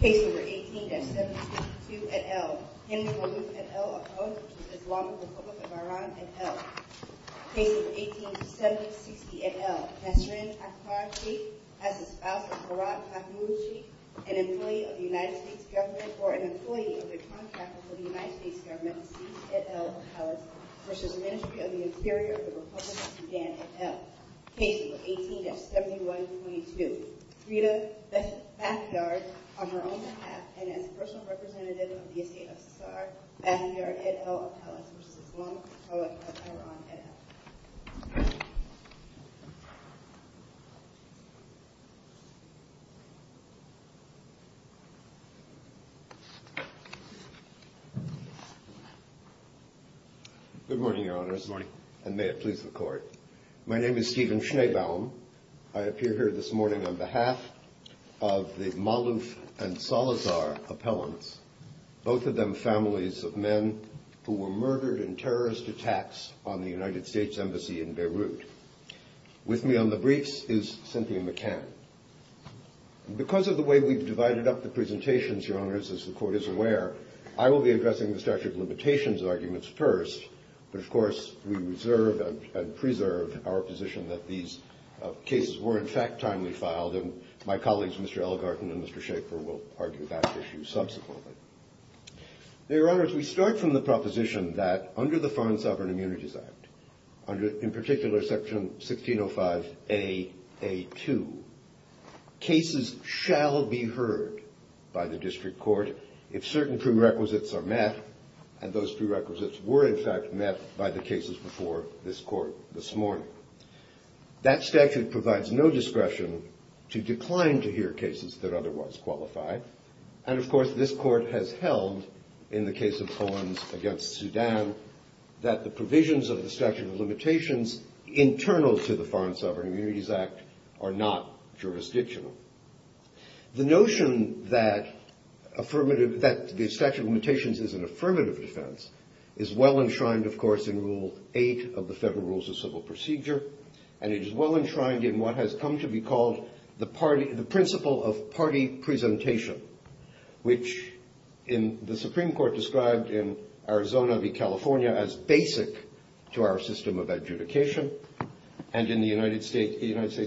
Case No. 18-762 et al. Henry Williams et al. Opposed to the Islamic Republic of Iran et al. Case No. 18-768 et al. Benjamin Asmar Sheikh as a spouse of Murad Mahmoud Sheikh, an employee of the United States government or an employee of the contractors of the United States government et al. Opposed to the Ministry of the Interior of the Republic of Sudan et al. Case No. 18-7122. Rita Bethe Bathiard on her own behalf and as a personal representative of the United States of America Bathiard et al. Opposed to the Islamic Republic of Iran et al. Good morning, Your Honor. Good morning. And may it please the Court. My name is Stephen Schneebaum. I appear here this morning on behalf of the Malouf and Salazar appellants, both of them families of men who were murdered in terrorist attacks on the United States Embassy in Beirut. With me on the briefs is Cynthia McCann. And because of the way we've divided up the presentations, Your Honors, as the Court is aware, I will be addressing the statute of limitations arguments first. But, of course, we reserve and preserve our position that these cases were, in fact, timely filed and my colleagues, Mr. Ellegarten and Mr. Shachar, will argue that issue subsequently. Your Honors, we start from the proposition that under the Fine Sovereign Immunities Act, under, in particular, Section 1605A.A.2, cases shall be heard by the District Court if certain prerequisites are met, and those prerequisites were, in fact, met by the cases before this Court this morning. That statute provides no discretion to decline to hear cases that otherwise qualify. And, of course, this Court has held, in the case of Fonds against Sudan, that the provisions of the statute of limitations internal to the Foreign Sovereign Immunities Act are not jurisdictional. The notion that the statute of limitations is an affirmative defense is well enshrined, of course, in Rule 8 of the Federal Rules of Civil Procedure, and it is well enshrined in what has come to be called the principle of party presentation, which the Supreme Court described in Arizona v. California as basic to our system of adjudication, and in the United States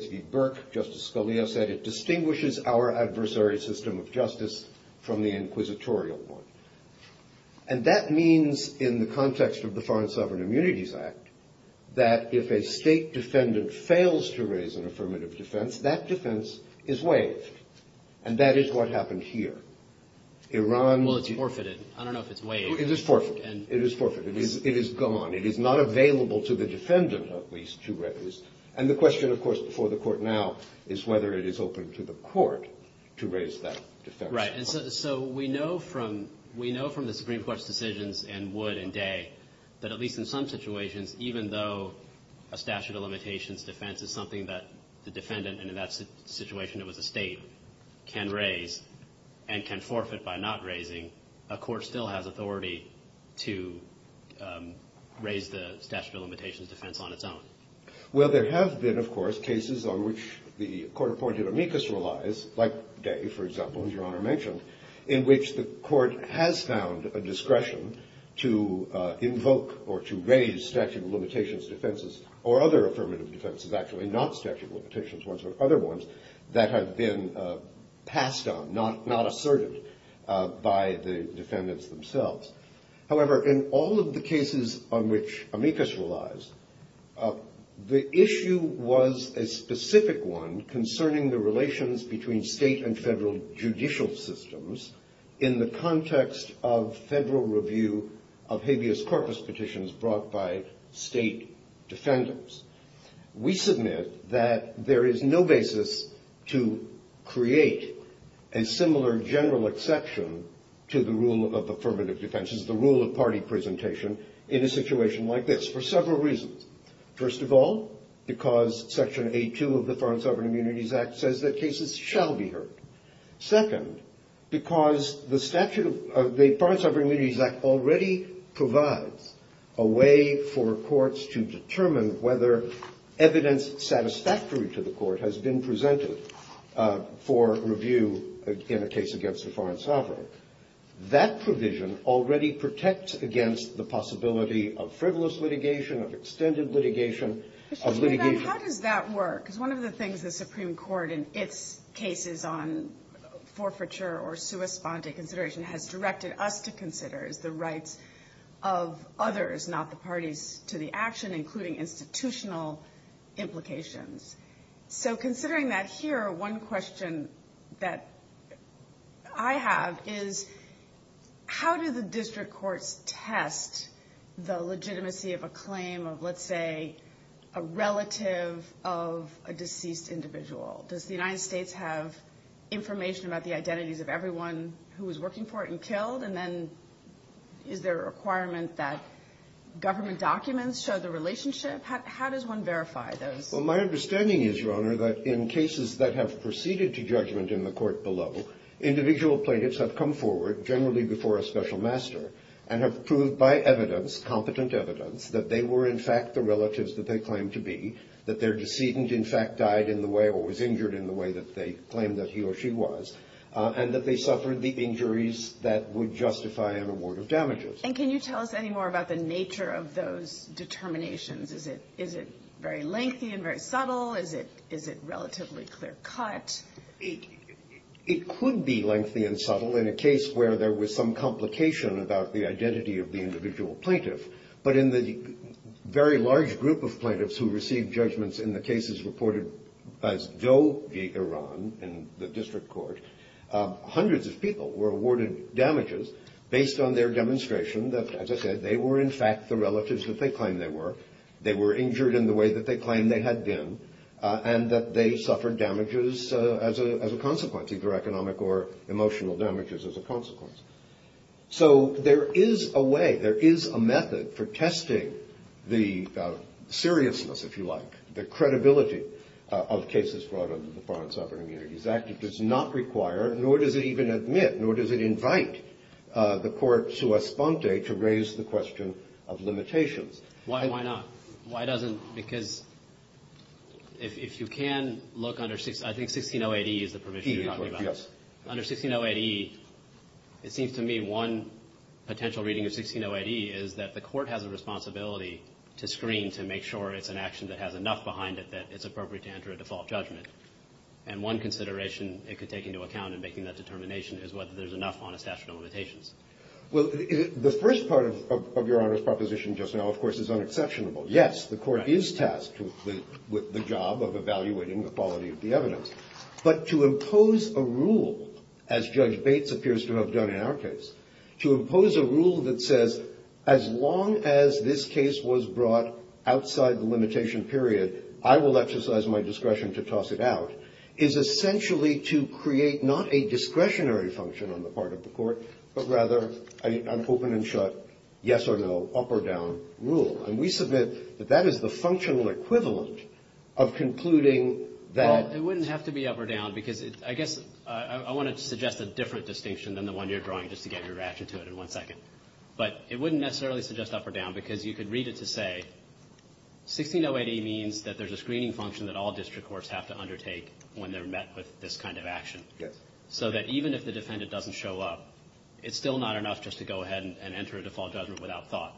v. Burke, Justice Scalia said it distinguishes our adversary system of justice from the inquisitorial one. And that means, in the context of the Foreign Sovereign Immunities Act, that if a State defendant fails to raise an affirmative defense, that defense is waived. And that is what happened here. Iran... Well, it's forfeited. I don't know if it's waived. It is forfeited. It is forfeited. It is gone. It is not available to the defendant, at least, to raise. And the question, of course, before the Court now is whether it is open to the Court to raise that defense. Right. And so we know from the Supreme Court's decisions in Wood and Day that, at least in some situations, even though a statute of limitations defense is something that the defendant, and in that situation it was a State, can raise and can forfeit by not raising, a Court still has authority to raise the statute of limitations defense on its own. Well, there have been, of course, cases on which the court appointed amicus relies, like Day, for example, in which the court has found a discretion to invoke or to raise statute of limitations defenses, or other affirmative defenses, actually, not statute of limitations ones, but other ones, that have been passed on, not asserted by the defendants themselves. However, in all of the cases on which amicus relies, the issue was a specific one concerning the relations between State and Federal judicial systems in the context of Federal review of habeas corpus petitions brought by State defendants. We submit that there is no basis to create a similar general exception to the rule of affirmative defenses, the rule of party presentation, in a situation like this, for several reasons. First of all, because Section 82 of the Foreign Sovereign Immunities Act says that cases shall be heard. Second, because the Foreign Sovereign Immunities Act already provides a way for courts to determine whether evidence satisfactory to the court has been presented for review in a case against a foreign sovereign. That provision already protects against the possibility of frivolous litigation, of extended litigation, of litigation. How does that work? Because one of the things the Supreme Court, in its cases on forfeiture or sua sponte consideration, has directed us to consider is the rights of others, not the parties to the action, including institutional implications. So considering that here, one question that I have is how do the district courts test the legitimacy of a claim of, let's say, a relative of a deceased individual? Does the United States have information about the identities of everyone who was working for it and killed? And then is there a requirement that government documents show the relationship? How does one verify those? Well, my understanding is, Your Honor, that in cases that have proceeded to judgment in the court below, individual plaintiffs have come forward, generally before a special master, and have proved by evidence, competent evidence, that they were, in fact, the relatives that they claimed to be, that their decedent, in fact, died in the way or was injured in the way that they claimed that he or she was, and that they suffered the injuries that would justify an award of damages. And can you tell us any more about the nature of those determinations? Is it very lengthy and very subtle? Is it relatively clear-cut? It could be lengthy and subtle in a case where there was some complication about the identity of the individual plaintiff. But in the very large group of plaintiffs who received judgments in the cases reported as Doe v. Iran in the district court, hundreds of people were awarded damages based on their demonstration that, as I said, they were, in fact, the relatives that they claimed they were, they were injured in the way that they claimed they had been, and that they suffered damages as a consequence, either economic or emotional damages as a consequence. So there is a way, there is a method for testing the seriousness, if you like, the credibility of cases brought under the Foreign Sovereign Immunities Act. It does not require, nor does it even admit, nor does it invite the court, sua sponte, to raise the question of limitations. Why not? Why doesn't, because if you can look under, I think 1608E is the provision you're talking about. Under 1608E, it seems to me one potential reading of 1608E is that the court has a responsibility to screen, to make sure it's an action that has enough behind it that it's appropriate to enter a default judgment. And one consideration it could take into account in making that determination is whether there's enough on a statute of limitations. Well, the first part of Your Honor's proposition just now, of course, is unexceptionable. Yes, the court is tasked with the job of evaluating the quality of the evidence. But to impose a rule, as Judge Bates appears to have done in our case, to impose a rule that says as long as this case was brought outside the limitation period, I will exercise my discretion to toss it out, is essentially to create not a discretionary function on the part of the court, but rather an open and shut, yes or no, up or down rule. And we submit that that is the functional equivalent of concluding that. It wouldn't have to be up or down, because I guess I want to suggest a different distinction than the one you're drawing, just to get your ratchet to it in one second. But it wouldn't necessarily suggest up or down, because you could read it to say, 1608A means that there's a screening function that all district courts have to undertake when they're met with this kind of action. Yes. So that even if the defendant doesn't show up, it's still not enough just to go ahead and enter a default judgment without thought.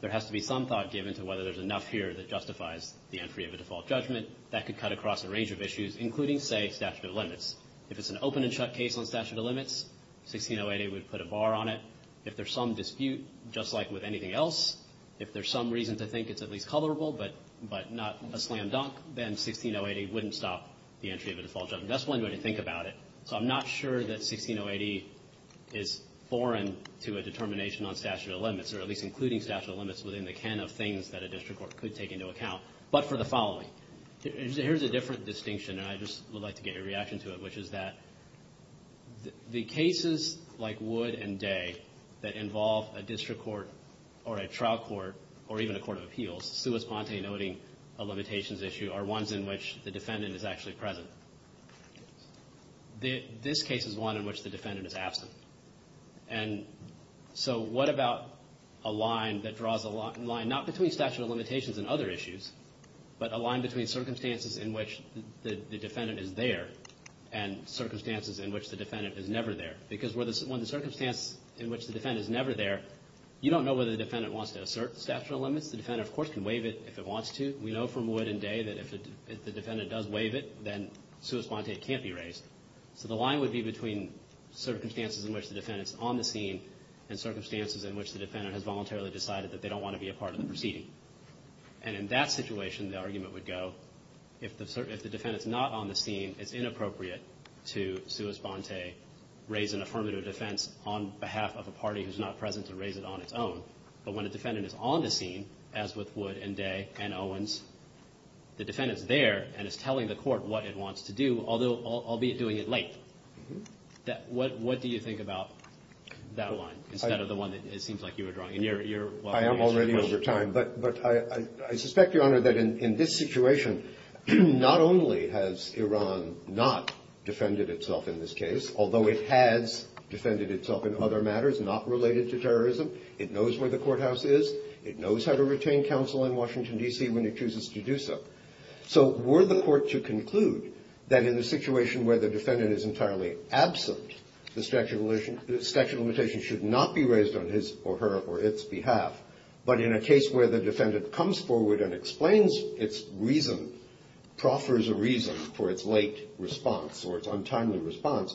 There has to be some thought given to whether there's enough here that justifies the entry of a default judgment. That could cut across a range of issues, including, say, statute of limits. If it's an open and shut case on statute of limits, 1608A would put a bar on it. If there's some dispute, just like with anything else, if there's some reason to think it's at least colorable but not a slam dunk, then 1608A wouldn't stop the entry of a default judgment. That's one way to think about it. So I'm not sure that 1608A is foreign to a determination on statute of limits, or at least including statute of limits within the can of things that a district court could take into account, but for the following. Here's a different distinction, and I just would like to get your reaction to it, which is that the cases like Wood and Day that involve a district court or a trial court, or even a court of appeals, sui fonte noting a limitations issue, are ones in which the defendant is actually present. This case is one in which the defendant is absent. And so what about a line that draws a line, not between statute of limitations and other issues, but a line between circumstances in which the defendant is there and circumstances in which the defendant is never there? Because when the circumstance in which the defendant is never there, you don't know whether the defendant wants to assert statute of limits. The defendant, of course, can waive it if it wants to. We know from Wood and Day that if the defendant does waive it, then sui fonte can't be raised. So the line would be between circumstances in which the defendant is on the scene and circumstances in which the defendant has voluntarily decided that they don't want to be a part of the proceeding. And in that situation, the argument would go, if the defendant's not on the scene, it's inappropriate to sui fonte raise an affirmative defense on behalf of a party who's not present to raise it on its own. But when a defendant is on the scene, as with Wood and Day and Owens, the defendant's there and is telling the court what it wants to do, although albeit doing it late. What do you think about that line instead of the one that it seems like you were drawing? I am already over time. But I suspect, Your Honor, that in this situation, not only has Iran not defended itself in this case, although it has defended itself in other matters not related to terrorism, it knows where the courthouse is, it knows how to retain counsel in Washington, D.C. when it chooses to do so. So were the court to conclude that in a situation where the defendant is entirely absent, the statute of limitations should not be raised on his or her or its behalf, but in a case where the defendant comes forward and explains its reason, proffers a reason for its late response or its untimely response,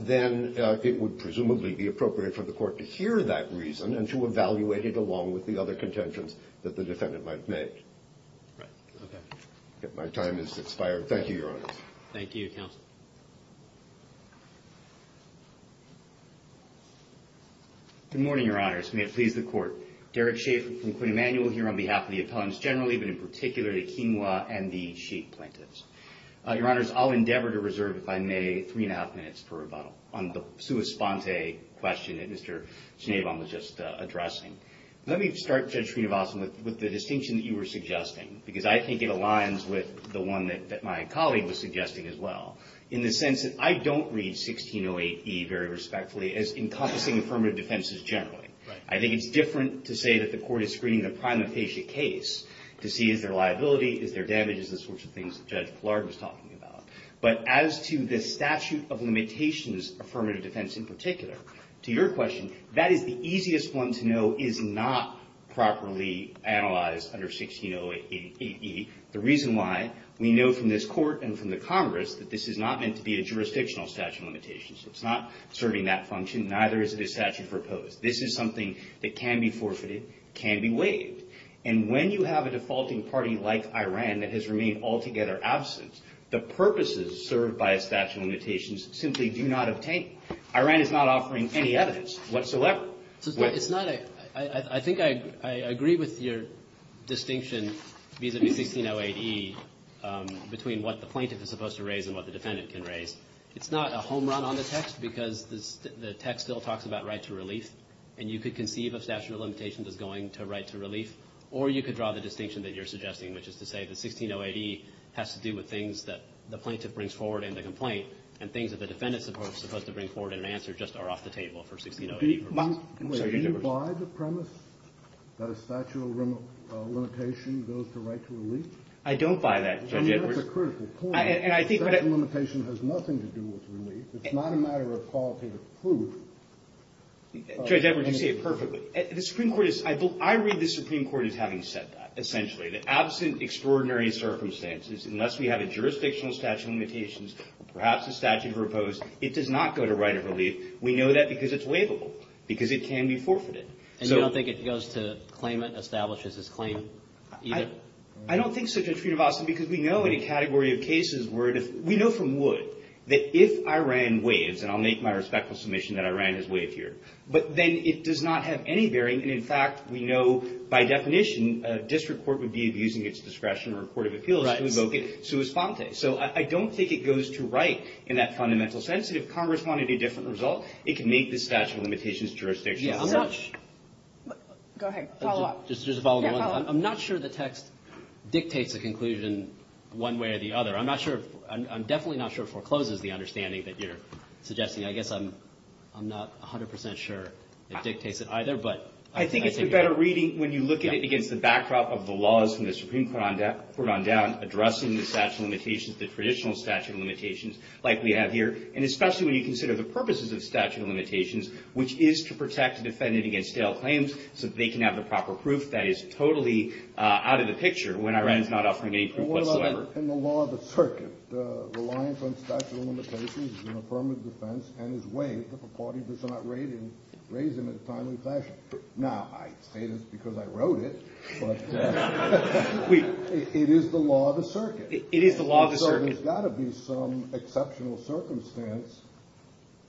then it would presumably be appropriate for the court to hear that reason and to evaluate it along with the other contentions that the defendant might make. My time has expired. Thank you, Your Honor. Thank you, counsel. Good morning, Your Honors. May it please the court. Derek Schafer from Quinn Emanuel here on behalf of the appellants generally, but in particular, the King Law and the Schafer plaintiffs. Your Honors, I'll endeavor to reserve, if I may, three-and-a-half minutes on the sua sponte question that Mr. Schneebaum was just addressing. Let me start, Judge Srinivasan, with the distinction that you were suggesting, because I think it aligns with the one that my colleague was suggesting as well, in the sense that I don't read 1608E very respectfully as encompassing affirmative defenses generally. I think it's different to say that the court is screening a primotasia case to see if there are liabilities, if there are damages, the sorts of things that Judge Blard was talking about. But as to the statute of limitations affirmative defense in particular, to your question, that is the easiest one to know is not properly analyzed under 1608E. The reason why we know from this court and from the Congress that this is not meant to be a jurisdictional statute of limitations. It's not serving that function, neither is it a statute proposed. This is something that can be forfeited, can be waived. And when you have a defaulting party like Iran that has remained altogether absent, the purposes served by a statute of limitations simply do not obtain. Iran is not offering any evidence whatsoever. I think I agree with your distinction vis-à-vis 1608E between what the plaintiff is supposed to raise and what the defendant can raise. It's not a home run on the text because the text still talks about right to relief, and you could conceive of statute of limitations as going to right to relief, or you could draw the distinction that you're suggesting, which is to say that 1608E has to do with things that the plaintiff brings forward in the complaint and things that the defendant is supposed to bring forward and answer just are off the table for 1608E. Do you buy the premise that a statute of limitation goes to right to relief? I don't buy that. I mean, that's a critical point. A statute of limitation has nothing to do with relief. It's not a matter of quality of proof. Judge Edwards, you say it perfectly. The Supreme Court is – I read the Supreme Court as having said that, essentially, that absent extraordinary circumstances, unless we have a jurisdictional statute of limitations, perhaps a statute proposed, it does not go to right of relief. We know that because it's waivable, because it can be forfeited. And you don't think it goes to claimant, establishes its claim, either? I don't think such a treatment is possible because we know a category of cases where – we know from Wood that if I ran Waives – and I'll make my respectful submission that I ran his Waive here – but then it does not have any bearing. In fact, we know by definition a district court would be abusing its discretion or court of appeals to evoke it sua sponte. So I don't think it goes to right in that fundamental sense. If Congress wanted a different result, it can make the statute of limitations jurisdictional. Yeah, I'm not – Go ahead. Follow-up. Just a follow-up. I'm not sure the text dictates a conclusion one way or the other. I'm not sure – I'm definitely not sure it forecloses the understanding that you're suggesting. I guess I'm not 100 percent sure it dictates it either, but – I think it's a better reading when you look at it against the backdrop of the laws from the Supreme Court on down addressing the statute of limitations, the traditional statute of limitations like we have here, and especially when you consider the purposes of the statute of limitations, which is to protect a defendant against failed claims so that they can have the proper proof. That is totally out of the picture when I ran it not off my main proof whatsoever. Well, in the law of the circuit, the reliance on statute of limitations is an affirmative defense and is waived if a party does not raise it in a silent fashion. Now, I say this because I wrote it, but it is the law of the circuit. It is the law of the circuit. So there's got to be some exceptional circumstance.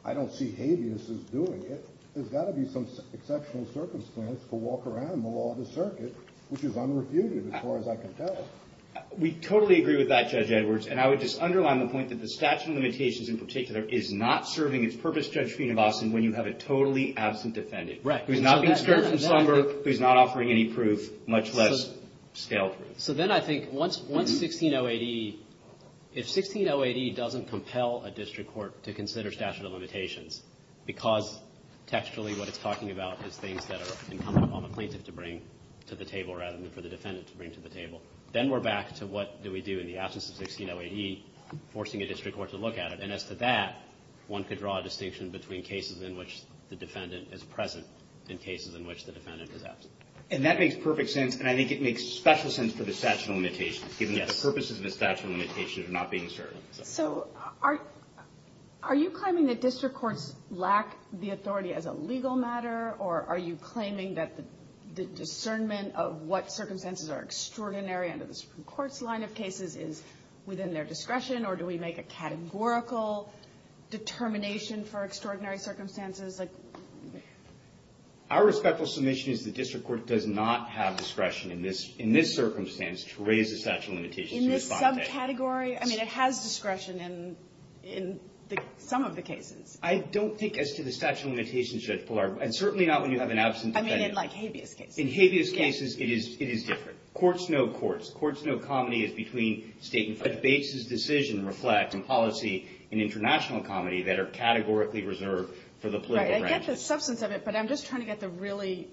I don't see habeas as doing it. There's got to be some exceptional circumstance to walk around the law of the circuit, which is unrefuted as far as I can tell. We totally agree with that, Judge Edwards, and I would just underline the point that the statute of limitations in particular is not serving its purpose, Judge Feene of Austin, when you have a totally absent defendant. Right. Who's not been circumscribed, who's not offering any proof, much less scale free. So then I think once 1608E, if 1608E doesn't compel a district court to consider statute of limitations because textually what it's talking about is things that are incumbent on the plaintiff to bring to the table rather than for the defendant to bring to the table, then we're back to what do we do in the absence of 1608E, forcing a district court to look at it. And as to that, one could draw a distinction between cases in which the defendant is present and cases in which the defendant is absent. And that makes perfect sense, and I think it makes special sense for the statute of limitations, given the other purposes of the statute of limitations not being served. So are you claiming that district courts lack the authority as a legal matter, or are you claiming that the discernment of what circumstances are extraordinary and the Supreme Court's line of cases is within their discretion, or do we make a categorical determination for extraordinary circumstances? Our respectful submission is the district court does not have discretion in this circumstance to raise the statute of limitations. In this category? I mean, it has discretion in some of the cases. I don't think as to the statute of limitations, and certainly not when you have an absent defendant. I mean, in like habeas cases. It is different. Courts know courts. Courts know comedy is between state and federal bases. Decisions reflect in policy in international comedy that are categorically reserved for the political branch. I get the substance of it, but I'm just trying to get the really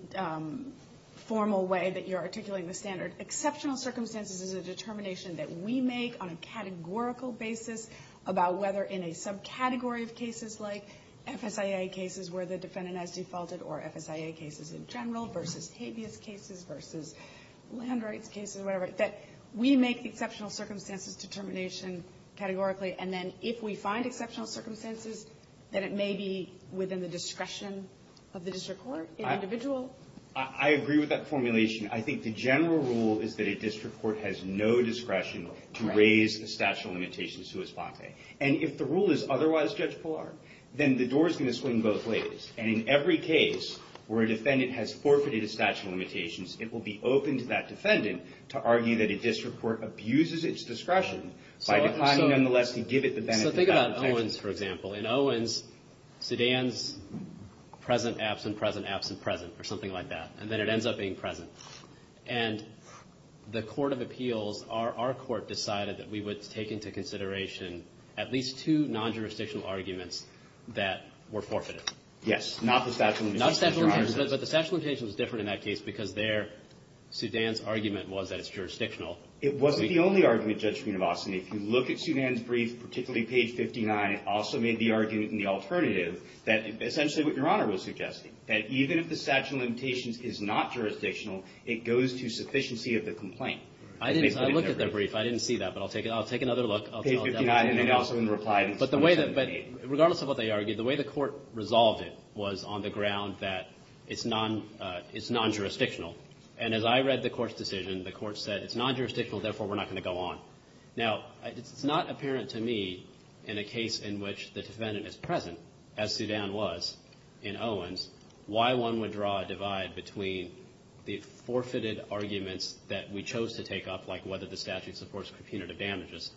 formal way that you're articulating the standard. Exceptional circumstances is a determination that we make on a categorical basis about whether in a subcategory of cases like FSIA cases where the defendant has defaulted or FSIA cases in general versus habeas cases versus land rights cases, whatever, that we make the exceptional circumstances determination categorically, and then if we find exceptional circumstances, then it may be within the discretion of the district court, the individual. I agree with that formulation. I think the general rule is that a district court has no discretion to raise the statute of limitations to its blockade. And if the rule is otherwise judgeable, then the door is going to swing both ways. And in every case where a defendant has forfeited a statute of limitations, it will be open to that defendant to argue that a district court abuses its discretion by declining nonetheless to give it the benefit of the doubt. So think about Owens, for example. In Owens, Sudan's present, absent, present, absent, present, or something like that, and then it ends up being present. And the court of appeals, our court decided that we would take into consideration at least two non-jurisdictional arguments that were forfeited. Yes. Not the statute of limitations. Not the statute of limitations. But the statute of limitations is different in that case because there, Sudan's argument was that it's jurisdictional. It wasn't the only argument, Judge Funabosumi. If you look at Sudan's brief, particularly page 59, also made the argument in the alternative that essentially what Your Honor was suggesting, that even if the statute of limitations is not jurisdictional, it goes to sufficiency of the complaint. I looked at their brief. I didn't see that, but I'll take another look. Page 59, and then also in reply. But regardless of what they argued, the way the court resolved it was on the ground that it's non-jurisdictional. And as I read the court's decision, the court said it's non-jurisdictional, therefore we're not going to go on. Now, it's not apparent to me in a case in which the defendant is present, as Sudan was in Owens, why one would draw a divide between the forfeited arguments that we chose to take up, like whether the statute supports punitive damages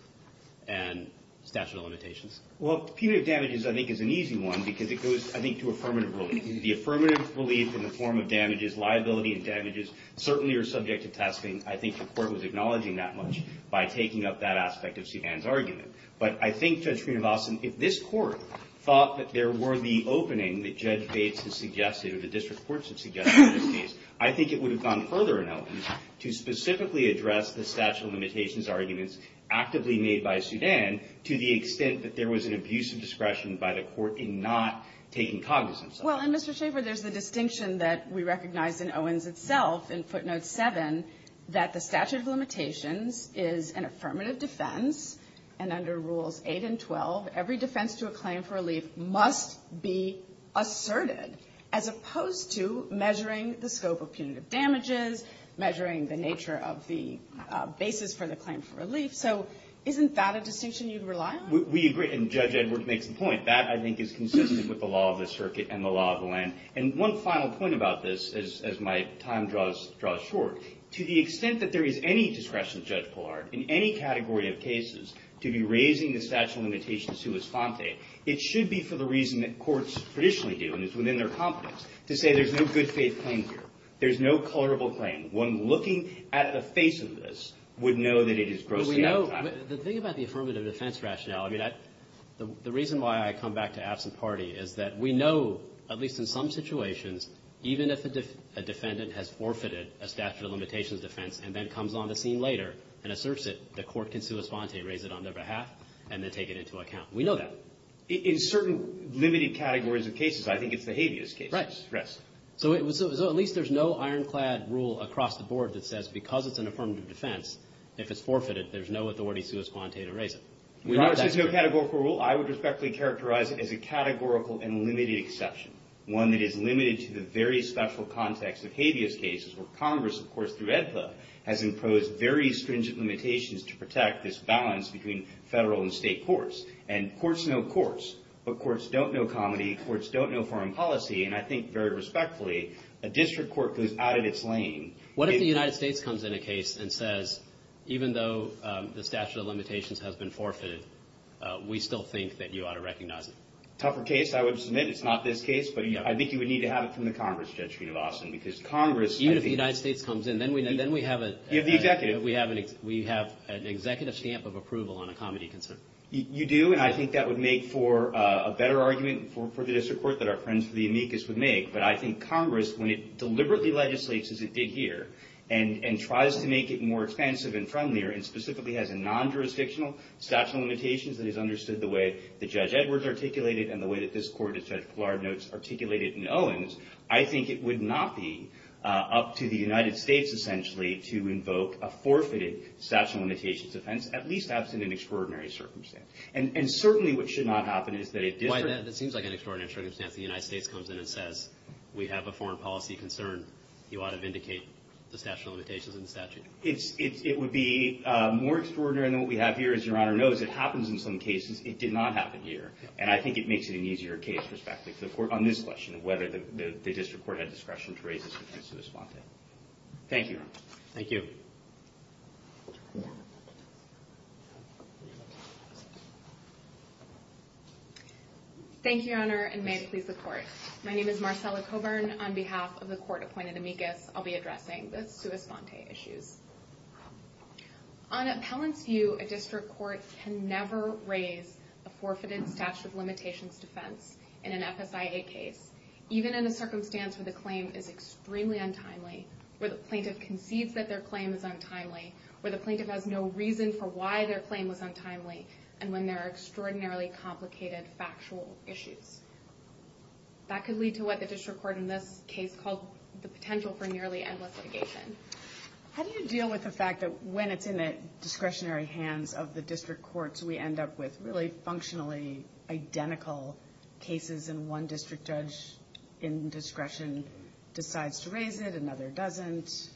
and statute of limitations. Well, punitive damages, I think, is an easy one because it goes, I think, to affirmative relief. The affirmative relief in the form of damages, liability and damages, certainly are subject to testing. I think the court was acknowledging that much by taking up that aspect of Sudan's argument. But I think, Judge Funabosumi, if this court thought that there were the opening that Judge Bates had suggested, or the district courts had suggested in this case, I think it would have gone further in Owens to specifically address the statute of limitations arguments actively made by Sudan to the extent that there was an abuse of discretion by the court in not taking cognizance of it. Well, and Mr. Schaffer, there's the distinction that we recognize in Owens itself, in footnote 7, that the statute of limitations is an affirmative defense. And under rules 8 and 12, every defense to a claim for relief must be asserted, as opposed to measuring the scope of punitive damages, measuring the nature of the basis for the claim for relief. So isn't that a distinction you'd rely on? We agree, and Judge Edwards makes a point. That, I think, is consistent with the law of the circuit and the law of the land. And one final point about this, as my time draws short, to the extent that there is any discretion, Judge Pollard, in any category of cases, to be raising the statute of limitations to its fonte, it should be for the reason that courts traditionally do, and it's within their competence, to say there's no good faith claim here. There's no colorable claim. One looking at the face of this would know that it is grossly unlawful. The thing about the affirmative defense rationale, I mean, the reason why I come back to absent party is that we know, at least in some situations, even if a defendant has forfeited a statute of limitations defense and then comes on the scene later and asserts it, the court can sue a fonte, raise it on their behalf, and then take it into account. We know that. In certain limited categories of cases, I think it's the habeas case. Right. So at least there's no ironclad rule across the board that says because it's an affirmative defense, if it's forfeited, there's no authority to sue a fonte to raise it. There's no categorical rule. I would respectfully characterize it as a categorical and limited exception, one that is limited to the very special context of habeas cases where Congress, of course, has imposed very stringent limitations to protect this balance between federal and state courts. And courts know courts, but courts don't know comedy, courts don't know foreign policy, and I think very respectfully, a district court goes out of its lane. What if the United States comes in a case and says, even though the statute of limitations has been forfeited, we still think that you ought to recognize it? A tougher case, I would submit, is not this case, but I think you would need to have it from the Congress, Judge Green of Austin, because Congress, even if the United States comes in, then we have an executive stamp of approval on a comedy concern. You do, and I think that would make for a better argument for this report that our friends from the amicus would make, but I think Congress, when it deliberately legislates as it did here, and tries to make it more expensive and friendlier, and specifically has a non-jurisdictional statute of limitations that is understood the way that Judge Edwards articulated it and the way that this court, Detective Clark notes, articulated it in Owens, I think it would not be up to the United States, essentially, to invoke a forfeited statute of limitations defense, at least not in an extraordinary circumstance. And certainly what should not happen is that a district... Why is that? It seems like an extraordinary circumstance that the United States comes in and says, we have a foreign policy concern. You ought to vindicate the statute of limitations in the statute. It would be more extraordinary than what we have here, as Your Honor knows. It happens in some cases. It did not happen here, and I think it makes it an easier case, on this question of whether the district court had discretion to raise the statute of limitations. Thank you. Thank you. Thank you, Your Honor, and may it please the Court. My name is Marcella Coburn. On behalf of the court appointed amicus, I'll be addressing the sui sante issue. On a powering view, a district court can never raise a forfeited statute of limitations defense in an FFIA case, even in a circumstance where the claim is extremely untimely, where the plaintiff concedes that their claim is untimely, where the plaintiff has no reason for why their claim was untimely, and when there are extraordinarily complicated factual issues. That could lead to what the district court in this case called the potential for nearly endless litigation. How do you deal with the fact that when it's in the discretionary hands of the district courts, we end up with really functionally identical cases, and one district judge in discretion decides to raise it, another doesn't?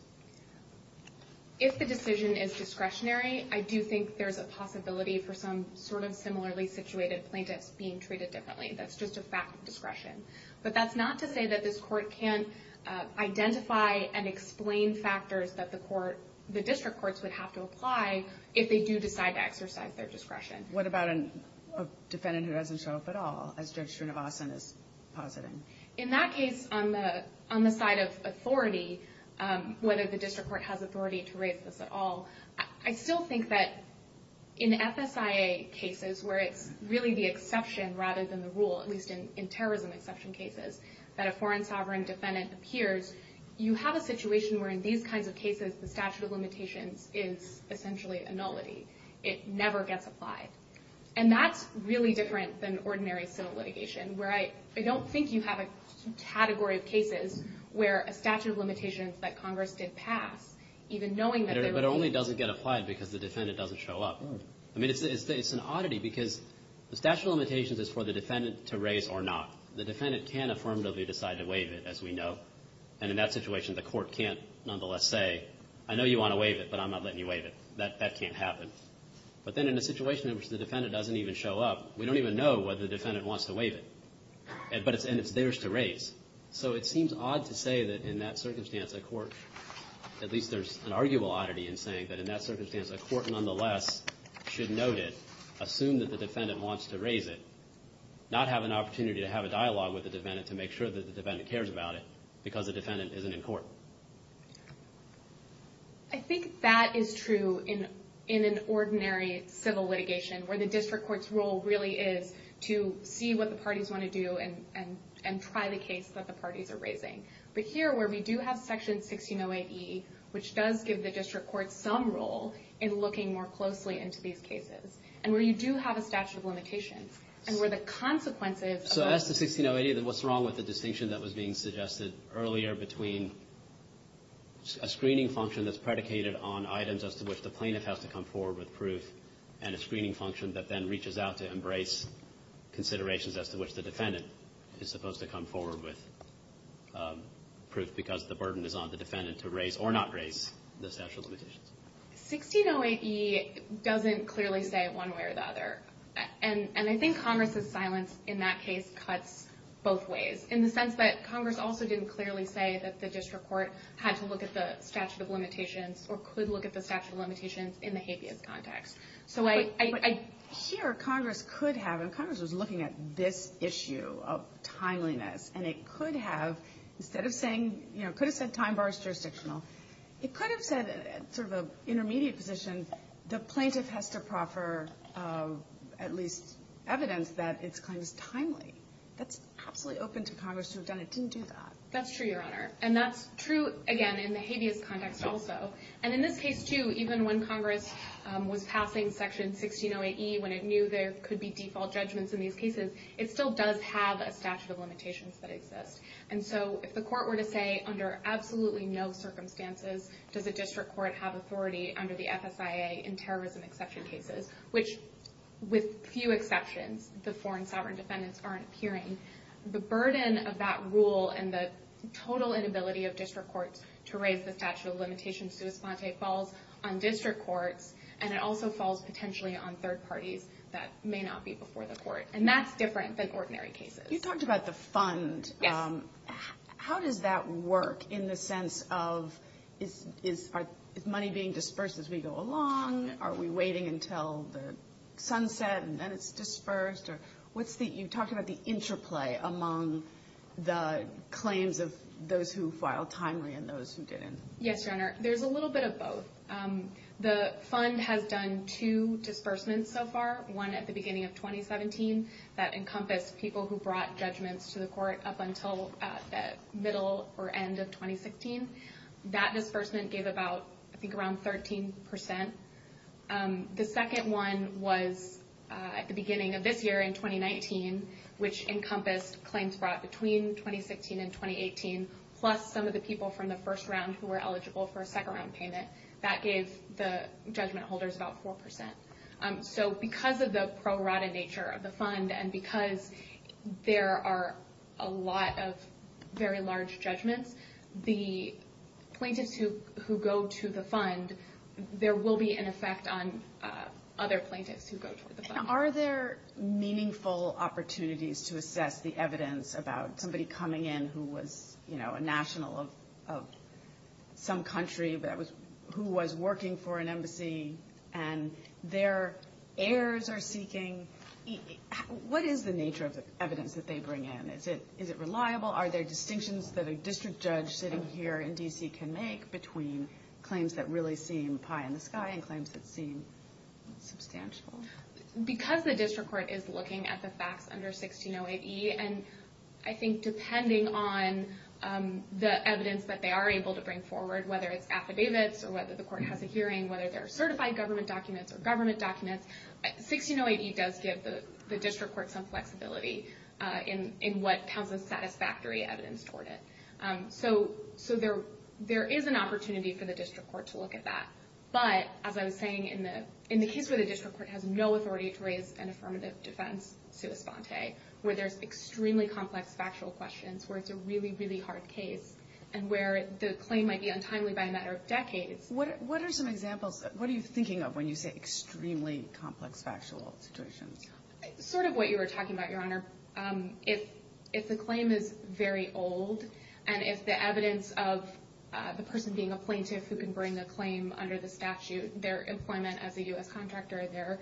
If the decision is discretionary, I do think there's a possibility for some sort of similarly situated plaintiff being treated differently. That's just a fact of discretion. But that's not to say that this court can't identify and explain factors that the district courts would have to apply if they do decide to exercise their discretion. What about a defendant who doesn't show up at all, as Judge Srinivasan is positing? In that case, on the side of authority, whether the district court has authority to raise this at all, I still think that in FFIA cases where it's really the exception rather than the rule, at least in terrorism exception cases, that a foreign sovereign defendant appears, you have a situation where in these kinds of cases the statute of limitations is essentially a nullity. It never gets applied. And that's really different than ordinary civil litigation, where I don't think you have a category of cases where a statute of limitations that Congress did pass, even knowing that there's a... But it only doesn't get applied because the defendant doesn't show up. I mean, it's an oddity, because the statute of limitations is for the defendant to raise or not. The defendant can affirmatively decide to waive it, as we know. And in that situation, the court can't nonetheless say, I know you want to waive it, but I'm not letting you waive it. That can't happen. But then in a situation in which the defendant doesn't even show up, we don't even know whether the defendant wants to waive it. And it's theirs to raise. So it seems odd to say that in that circumstance the court, at least there's an arguable oddity in saying that in that circumstance, a court nonetheless should note it, assume that the defendant wants to raise it, not have an opportunity to have a dialogue with the defendant to make sure that the defendant cares about it, because the defendant isn't in court. I think that is true in an ordinary civil litigation, where the district court's role really is to see what the parties want to do and try the case that the parties are raising. But here, where we do have Section 1608E, which does give the district court some role in looking more closely into these cases, and where you do have a statute of limitations, and where the consequences... So as to 1608E, what's wrong with the distinction that was being suggested earlier between a screening function that's predicated on items as to which the plaintiff has to come forward with proof and a screening function that then reaches out to embrace considerations as to which the defendant is supposed to come forward with proof because the burden is on the defendant to raise or not raise the statute of limitations? 1608E doesn't clearly say it one way or the other. And I think Congress's silence in that case cuts both ways, in the sense that Congress also didn't clearly say that the district court had to look at the statute of limitations or could look at the statute of limitations in the habeas context. So I... But here, Congress could have, and Congress was looking at this issue of timeliness, and it could have, instead of saying, you know, could have said time bars jurisdictional, it could have said, sort of an intermediate position, the plaintiff has to proffer at least evidence that it's kind of timely. That's probably open to Congress to have done it. It didn't do that. That's true, Your Honor. And that's true, again, in the habeas context also. And in this case, too, even when Congress was passing Section 1608E, when it knew there could be default judgments in these cases, it still does have a statute of limitations that exists. And so if the court were to say, under absolutely no circumstances, does the district court have authority under the FSIA in terrorism exception cases, which, with few exceptions, the foreign sovereign defendants aren't hearing, the burden of that rule and the total inability of district courts to raise the statute of limitations to this point falls on district courts, and it also falls potentially on third parties that may not be before the court. And that's different than ordinary cases. You talked about the fund. How does that work in the sense of is money being dispersed as we go along? Are we waiting until the sunset and then it's dispersed? You talked about the interplay among the claims of those who filed timely and those who didn't. Yes, Your Honor. There's a little bit of both. The fund has done two disbursements so far, one at the beginning of 2017, that encompassed people who brought judgments to the court up until the middle or end of 2016. That disbursement gave about, I think, around 13%. The second one was at the beginning of this year in 2019, which encompassed claims brought between 2016 and 2018, plus some of the people from the first round who were eligible for a second round payment. That gave the judgment holders about 4%. So because of the pro-rata nature of the fund and because there are a lot of very large judgments, the plaintiffs who go to the fund, there will be an effect on other plaintiffs who go to the fund. Are there meaningful opportunities to assess the evidence about somebody coming in who was, you know, a national of some country who was working for an embassy and their heirs are seeking? What is the nature of the evidence that they bring in? Is it reliable? Are there distinctions that a district judge sitting here in D.C. can make between claims that really seem pie-in-the-sky and claims that seem substantial? Because the district court is looking at the facts under 1608E, and I think depending on the evidence that they are able to bring forward, whether it's affidavits or whether the court has a hearing, whether they're certified government documents or government documents, 1608E does give the district court some flexibility in what counts as satisfactory evidence toward it. So there is an opportunity for the district court to look at that. But as I was saying, in the case where the district court has no authority to raise an affirmative defense sui fonte, where there's extremely complex factual questions, where it's a really, really hard case, and where the claim might be untimely by a matter of decades. What are some examples? What are you thinking of when you say extremely complex factual questions? Sort of what you were talking about, Your Honor. If the claim is very old and it's the evidence of the person being a plaintiff who can bring a claim under the statute, their employment as a U.S. contractor, their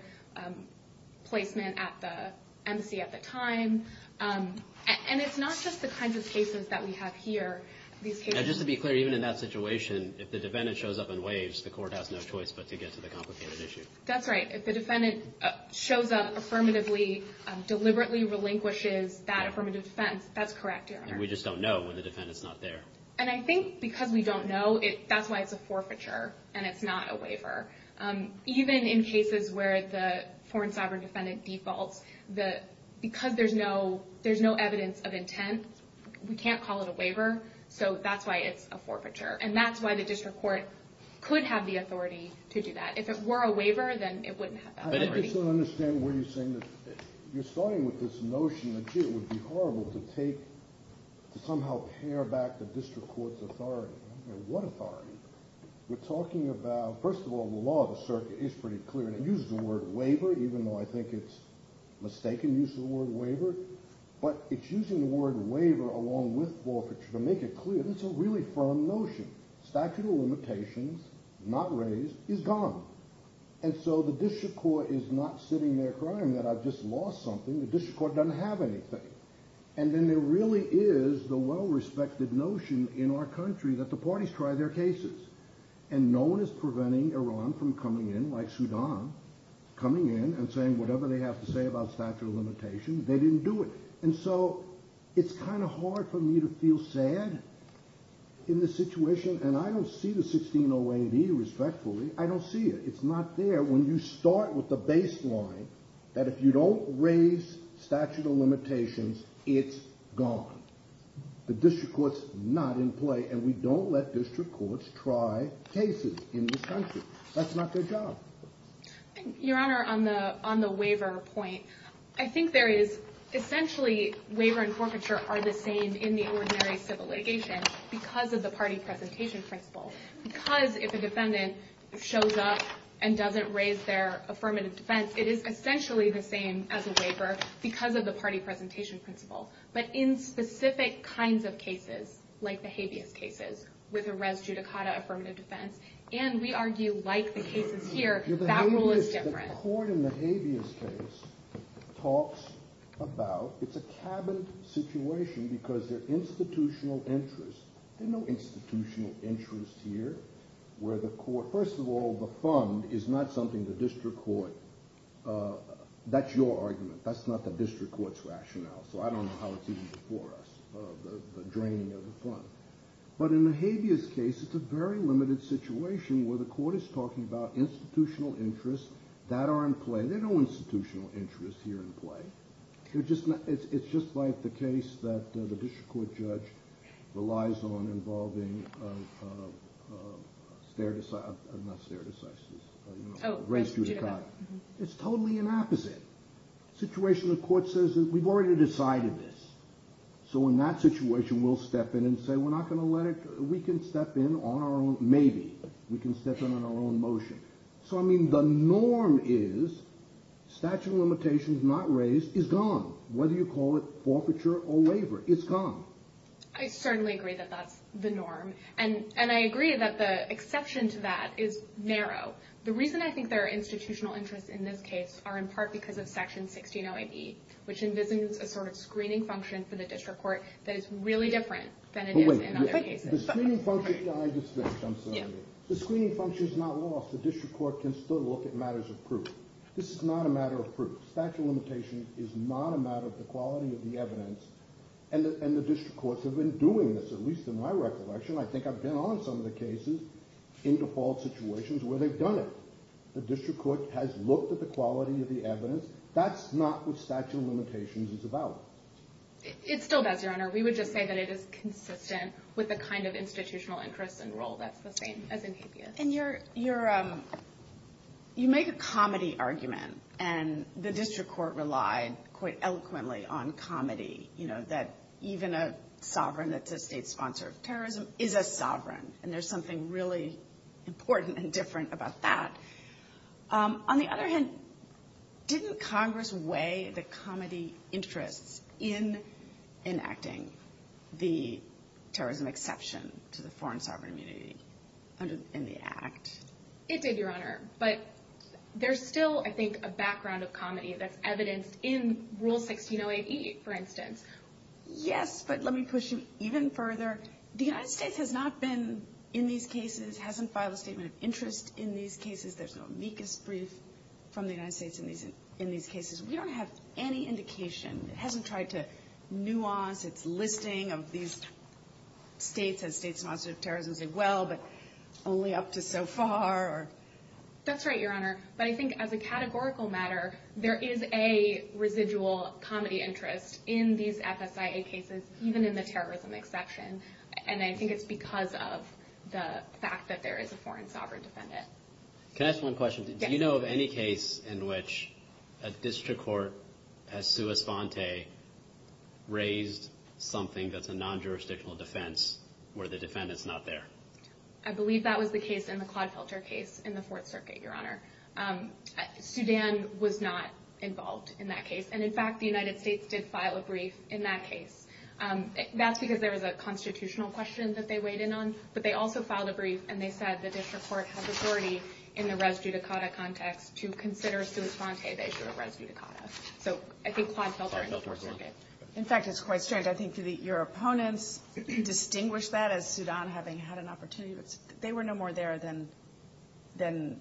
placement at the embassy at the time, and it's not just the kinds of cases that we have here. Just to be clear, even in that situation, if the defendant shows up and waives, the court has no choice but to get to the complicated issue. That's right. If the defendant shows up affirmatively, deliberately relinquishes that affirmative defense, that's correct, Your Honor. We just don't know when the defendant's not there. And I think because we don't know, that's why it's a forfeiture and it's not a waiver. Even in cases where the foreign sovereign defendant defaults, because there's no evidence of intent, we can't call it a waiver. So that's why it's a forfeiture. And that's why the district court could have the authority to do that. If it were a waiver, then it wouldn't have that authority. I just don't understand what you're saying. You're starting with this notion that it would be horrible to somehow tear back the district court's authority. What authority? We're talking about, first of all, the law of the circuit is pretty clear. I'm not going to use the word waiver, even though I think it's a mistaken use of the word waiver. But it's using the word waiver along with forfeiture to make it clear. This is a really firm notion. Statute of limitations, not raised, is gone. And so the district court is not sitting there crying that I've just lost something. The district court doesn't have anything. And then there really is the well-respected notion in our country that the parties try their cases. And no one is preventing Iran from coming in, like Sudan, coming in and saying whatever they have to say about statute of limitations. They didn't do it. And so it's kind of hard for me to feel sad in this situation. And I don't see the 1608B respectfully. I don't see it. It's not there. When you start with the baseline that if you don't raise statute of limitations, it's gone. The district court's not in play. And we don't let district courts try cases in this country. That's not their job. Your Honor, on the waiver point, I think there is essentially waiver and forfeiture are the same in the ordinary civil litigation because of the party presentation principle. Because if a defendant shows up and doesn't raise their affirmative defense, it is essentially the same as a waiver because of the party presentation principle. But in specific kinds of cases, like the habeas cases, with a res judicata affirmative defense, and we argue like the cases here, that rule is different. The court in the habeas case talks about it's a cabin situation because there's institutional interest. There's no institutional interest here where the court, first of all, the fund is not something the district court, that's your argument. That's not the district court's rationale. So I don't know how it's even before us, the draining of the fund. But in the habeas case, it's a very limited situation where the court is talking about institutional interest that are in play. There's no institutional interest here in play. It's just like the case that the district court judge relies on involving stare decisis, race judicata. It's totally the opposite. The situation the court says is we've already decided this. So in that situation, we'll step in and say we're not going to let it, we can step in on our own, maybe. We can step in on our own motion. So I mean the norm is statute of limitations not raised is gone. Whether you call it forfeiture or waiver, it's gone. I certainly agree that that's the norm. And I agree that the exception to that is narrow. The reason I think there are institutional interests in this case are in part because of section 16-08E, which envisages a sort of screening function for the district court that is really different than it is in other cases. The screening function is not lost. The district court can still look at matters of proof. This is not a matter of proof. Statute of limitations is not a matter of the quality of the evidence. And the district courts have been doing this, at least in my recollection. I think I've been on some of the cases in default situations where they've done it. The district court has looked at the quality of the evidence. That's not what statute of limitations is about. It's still best, Your Honor. We would just say that it is consistent with the kind of institutional interest and role that pertains as an APS. And you make a comedy argument, and the district court relied quite eloquently on comedy, you know, that even a sovereign that's a sponsor of terrorism is a sovereign. And there's something really important and different about that. On the other hand, didn't Congress weigh the comedy interest in enacting the terrorism exception to the foreign sovereign immunity in the act? It did, Your Honor. But there's still, I think, a background of comedy that's evidenced in Rule 1608E, for instance. Yes, but let me push you even further. The United States has not been in these cases, hasn't filed a statement of interest in these cases. There's no amicus brief from the United States in these cases. We don't have any indication. It hasn't tried to nuance its listing of these states as states not subject to terrorism as well, but only up to so far. That's right, Your Honor. But I think as a categorical matter, there is a residual comedy interest in these FSIA cases, even in the terrorism exception. And I think it's because of the fact that there is a foreign sovereign defendant. Can I ask one question? Yes. Do you know of any case in which a district court, a sua sponte, raised something that's a non-jurisdictional defense where the defendant's not there? I believe that was the case in the Quad Tilter case in the Fourth Circuit, Your Honor. Sudan was not involved in that case. And, in fact, the United States did file a brief in that case. That's because there was a constitutional question that they weighed in on. But they also filed a brief, and they said the district court had authority in a res judicata context to consider sua sponte based on res judicata. So I think Quad Tilter in the Fourth Circuit. In fact, it's quite strange. I think your opponents distinguished that as Sudan having had an opportunity. They were no more there than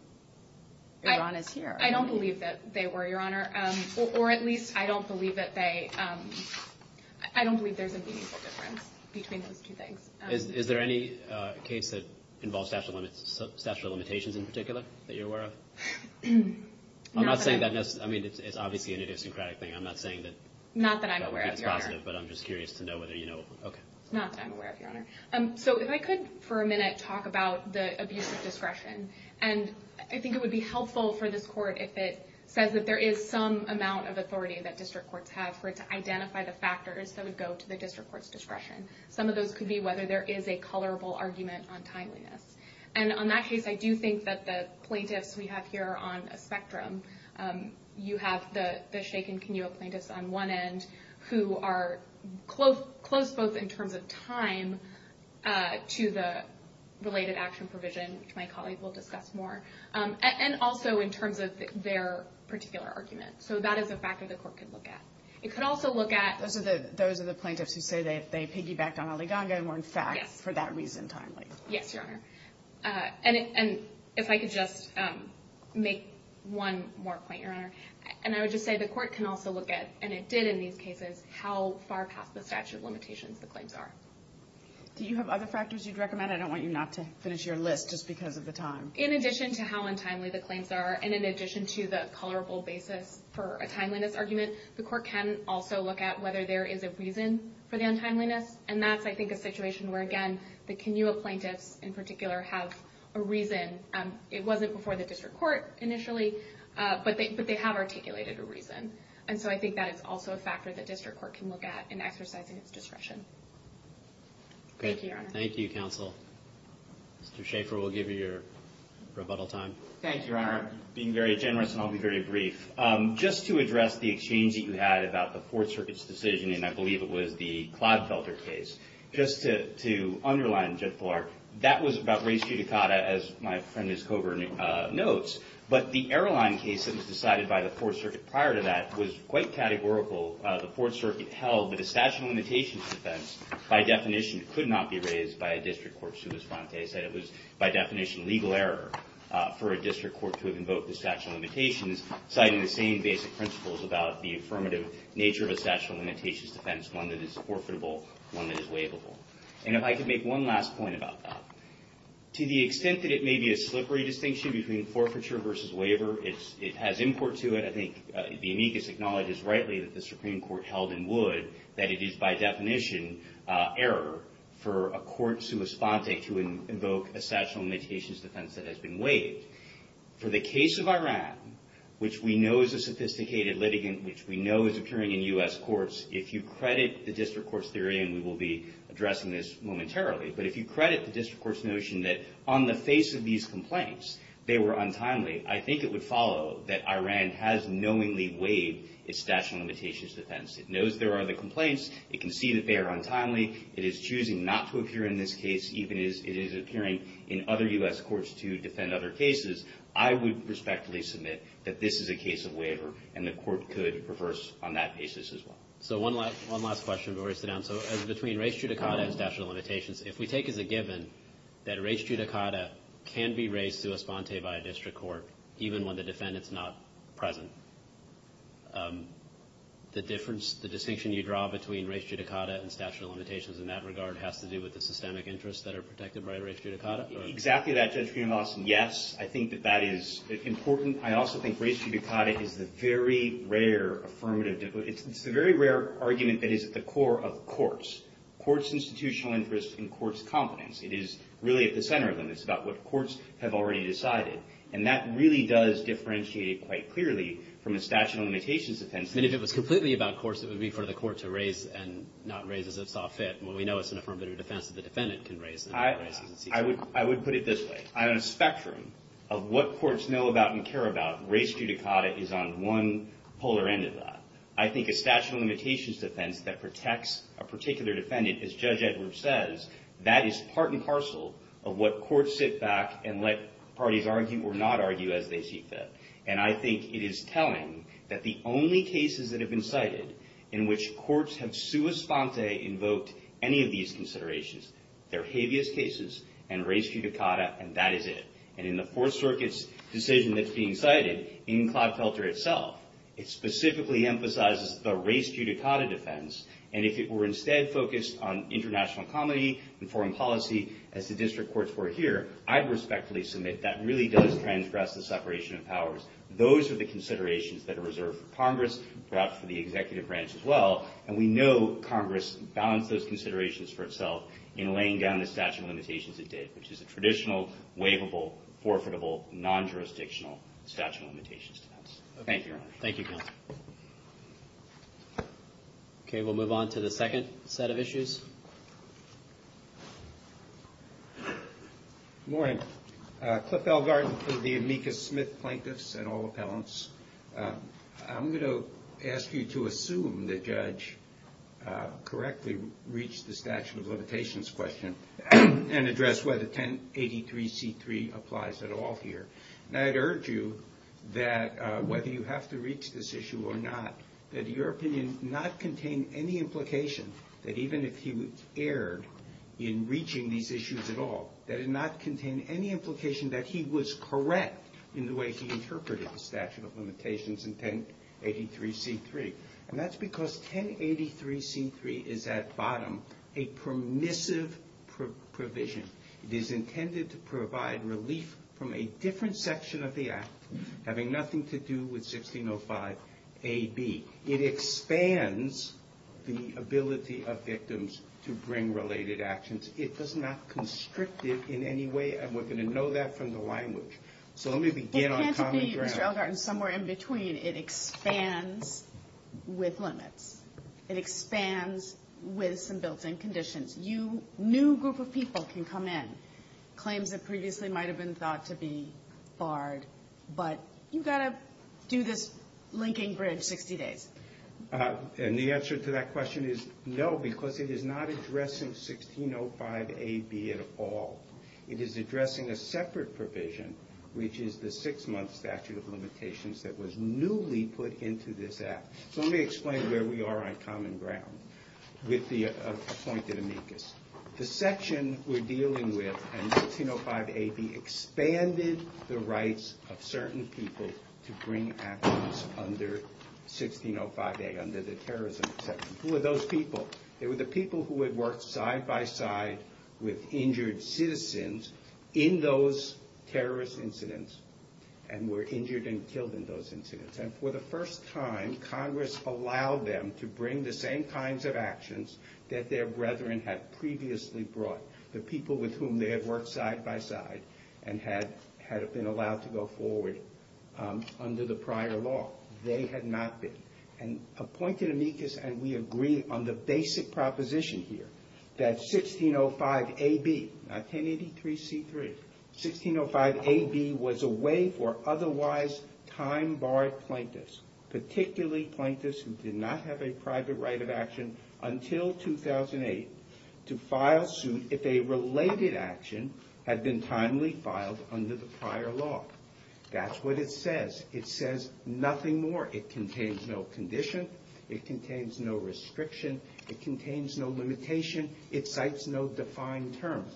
Iran is here. I don't believe that they were, Your Honor. Or at least I don't believe that they – I don't believe there's a meaningful difference between those two things. Is there any case that involves statute of limitations in particular that you're aware of? I'm not saying that – I mean, it's obviously an idiosyncratic thing. I'm not saying that that would be constructive. Not that I'm aware of, Your Honor. But I'm just curious to know whether you know. Not that I'm aware of, Your Honor. So if I could for a minute talk about the abuse of discretion. And I think it would be helpful for this Court if it says that there is some amount of authority that district courts have for it to identify the factors that would go to the district court's discretion. Some of those could be whether there is a colorable argument on timeliness. And on that case, I do think that the plaintiffs we have here are on a spectrum. You have the Sheik and Kenyo plaintiffs on one end who are close both in terms of time to the related action provision, which my colleague will discuss more, and also in terms of their particular argument. So that is a factor the Court could look at. It could also look at – Those are the plaintiffs who say they piggybacked on Aliganda and were in fact, for that reason, timely. Yes, Your Honor. And if I could just make one more point, Your Honor. And I would just say the Court can also look at – and it did in these cases – how far past the statute limitations the claims are. Do you have other factors you'd recommend? I don't want you not to finish your list just because of the time. In addition to how untimely the claims are and in addition to the colorable basis for a timeliness argument, the Court can also look at whether there is a reason for the untimeliness. And that's, I think, a situation where, again, the Kenyo plaintiff in particular has a reason. It wasn't before the district court initially, but they have articulated a reason. And so I think that is also a factor the district court can look at in exercising its discretion. Thank you, Your Honor. Thank you, counsel. Mr. Schaefer, we'll give you your rebuttal time. Thank you, Your Honor. Being very generous, I'll be very brief. Just to address the exchange that you had about the Fourth Circuit's decision, and I believe it was the Claude Felder case, just to underline, Judge Bullard, that was about race judicata, as my friend Ms. Coburn notes. But the airline case that was decided by the Fourth Circuit prior to that was quite categorical. The Fourth Circuit held that a statute of limitations defense, by definition, could not be raised by a district court substance. They said it was, by definition, legal error for a district court to invoke the statute of limitations, citing the same basic principles about the affirmative nature of a statute of limitations defense, one that is forfeitable, one that is waivable. And if I could make one last point about that. To the extent that it may be a slippery distinction between forfeiture versus waiver, it has import to it. I think the amicus acknowledges rightly that the Supreme Court held in Wood that it is, by definition, error for a court substance to invoke a statute of limitations defense that has been waived. For the case of Iran, which we know is a sophisticated litigant, which we know is occurring in U.S. courts, if you credit the district court's theory, and we will be addressing this momentarily, but if you credit the district court's notion that on the face of these complaints, they were untimely, I think it would follow that Iran has knowingly waived its statute of limitations defense. It knows there are other complaints. It can see that they are untimely. It is choosing not to appear in this case even as it is appearing in other U.S. courts to defend other cases. I would respectfully submit that this is a case of waiver, and the court could reverse on that basis as well. So one last question before we sit down. So as between res judicata and statute of limitations, if we take as a given that res judicata can be raised to a sponte by a district court, even when the defendant is not present, the difference, the distinction you draw between res judicata and statute of limitations in that regard has to do with the systemic interests that are protected by res judicata? Exactly that, Judge Feinbaum. Yes, I think that that is important. I also think res judicata is a very rare affirmative. It's a very rare argument that is at the core of courts. Courts' institutional interest and courts' competence. It is really at the center of them. It's about what courts have already decided. And that really does differentiate quite clearly from a statute of limitations defense. And if it was completely about courts, it would be for the court to raise and not raise as it saw fit. When we know it's an affirmative defense, the defendant can raise it. I would put it this way. On a spectrum of what courts know about and care about, res judicata is on one polar end of that. I think a statute of limitations defense that protects a particular defendant, as Judge Edwards says, that is part and parcel of what courts sit back and let parties argue or not argue as they see fit. And I think it is telling that the only cases that have been cited in which courts have sua sponte invoked any of these considerations, they're habeas cases and res judicata, and that is it. And in the Fourth Circuit's decision that's being cited in Claude Felter itself, it specifically emphasizes the res judicata defense. And if it were instead focused on international comity and foreign policy, as the district courts were here, I'd respectfully submit that really does transgress the separation of powers. Those are the considerations that are reserved for Congress, perhaps for the executive branch as well. And we know Congress bounds those considerations for itself in laying down the statute of limitations it did, which is a traditional, waivable, forfeitable, non-jurisdictional statute of limitations defense. Thank you, Your Honor. Thank you, John. Okay, we'll move on to the second set of issues. Good morning. Cliff Elgarten for the Amica-Smith Plaintiffs and all appellants. I'm going to ask you to assume the judge correctly reached the statute of limitations question and address whether 1083C3 applies at all here. And I'd urge you that whether you have to reach this issue or not, that your opinion not contain any implication that even if he would err in reaching these issues at all, that it not contain any implication that he was correct in the way he interpreted the statute of limitations in 1083C3. And that's because 1083C3 is, at bottom, a permissive provision. It is intended to provide relief from a different section of the act having nothing to do with 1605AB. It expands the ability of victims to bring related actions. It does not constrict it in any way, and we're going to know that from the language. So let me begin on common ground. It can't be somewhere in between. It expands with limits. It expands with some built-in conditions. A new group of people can come in, claims that previously might have been thought to be barred, but you've got to do this linking bridge 60 days. And the answer to that question is no, because it is not addressing 1605AB at all. It is addressing a separate provision, which is the six-month statute of limitations that was newly put into this act. So let me explain where we are on common ground with the appointed amicus. The section we're dealing with in 1605AB expanded the rights of certain people to bring actions under 1605A, under the terrorism section. Who were those people? They were the people who had worked side-by-side with injured citizens in those terrorist incidents and were injured and killed in those incidents. And for the first time, Congress allowed them to bring the same kinds of actions that their brethren had previously brought, the people with whom they had worked side-by-side and had been allowed to go forward under the prior law. They had not been. And appointed amicus, and we agree on the basic proposition here, that 1605AB, not 1083C3, 1605AB was a way for otherwise time-barred plaintiffs, particularly plaintiffs who did not have a private right of action until 2008, to file suit if a related action had been timely filed under the prior law. That's what it says. It says nothing more. It contains no condition. It contains no restriction. It contains no limitation. It cites no defined terms.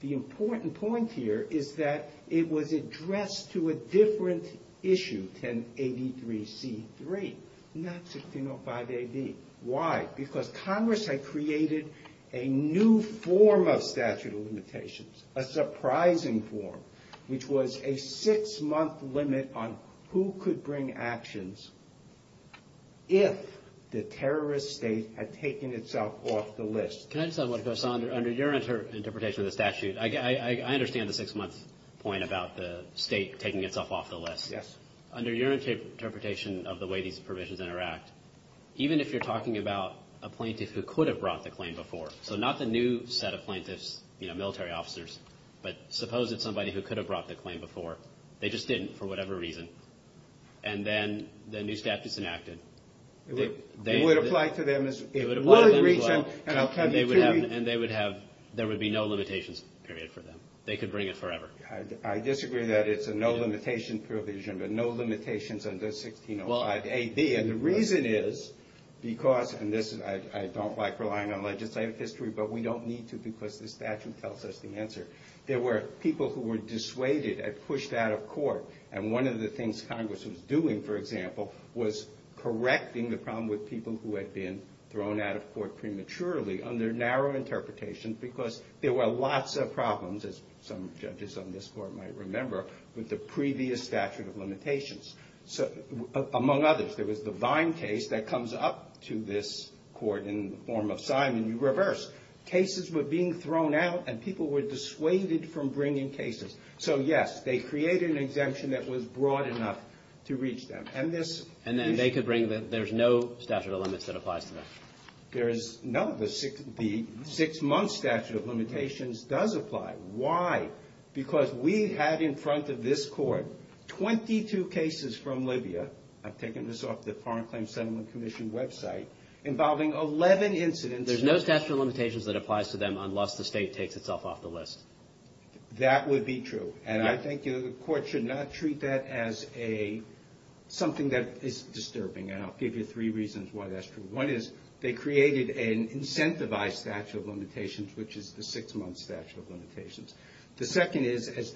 The important point here is that it was addressed to a different issue, 1083C3, not 1605AB. Why? Because Congress had created a new form of statute of limitations, a surprising form, which was a six-month limit on who could bring actions if the terrorist state had taken itself off the list. Can I just add one thing? So under your interpretation of the statute, I understand the six-month point about the state taking itself off the list. Yes. Under your interpretation of the way these provisions interact, even if you're talking about a plaintiff who could have brought the claim before, so not the new set of plaintiffs, you know, military officers, but suppose it's somebody who could have brought the claim before. They just didn't for whatever reason. And then the new statute's enacted. It would apply to them as one of the reasons, and I'll tell you three. And they would have no limitations period for them. They could bring it forever. I disagree that it's a no limitation provision, but no limitations under 1605AB. And the reason is because, and listen, I don't like relying on legislative history, but we don't need to because this statute tells us the answer. There were people who were dissuaded and pushed out of court, and one of the things Congress was doing, for example, was correcting the problem with people who had been thrown out of court prematurely under narrow interpretations because there were lots of problems, as some judges on this Court might remember, with the previous statute of limitations. Among others, there was the Vine case that comes up to this Court in the form of Simon. You reverse. Cases were being thrown out, and people were dissuaded from bringing cases. So, yes, they created an exemption that was broad enough to reach them. And then they could bring the, there's no statute of limits that applies to them? No, the six-month statute of limitations does apply. Why? Because we have in front of this Court 22 cases from Libya. I've taken this off the Foreign Claims Settlement Commission website, involving 11 incidents. There's no statute of limitations that applies to them unless the state takes itself off the list? That would be true. And I think the Court should not treat that as something that is disturbing, and I'll give you three reasons why that's true. One is they created an incentivized statute of limitations, which is the six-month statute of limitations. The second is, as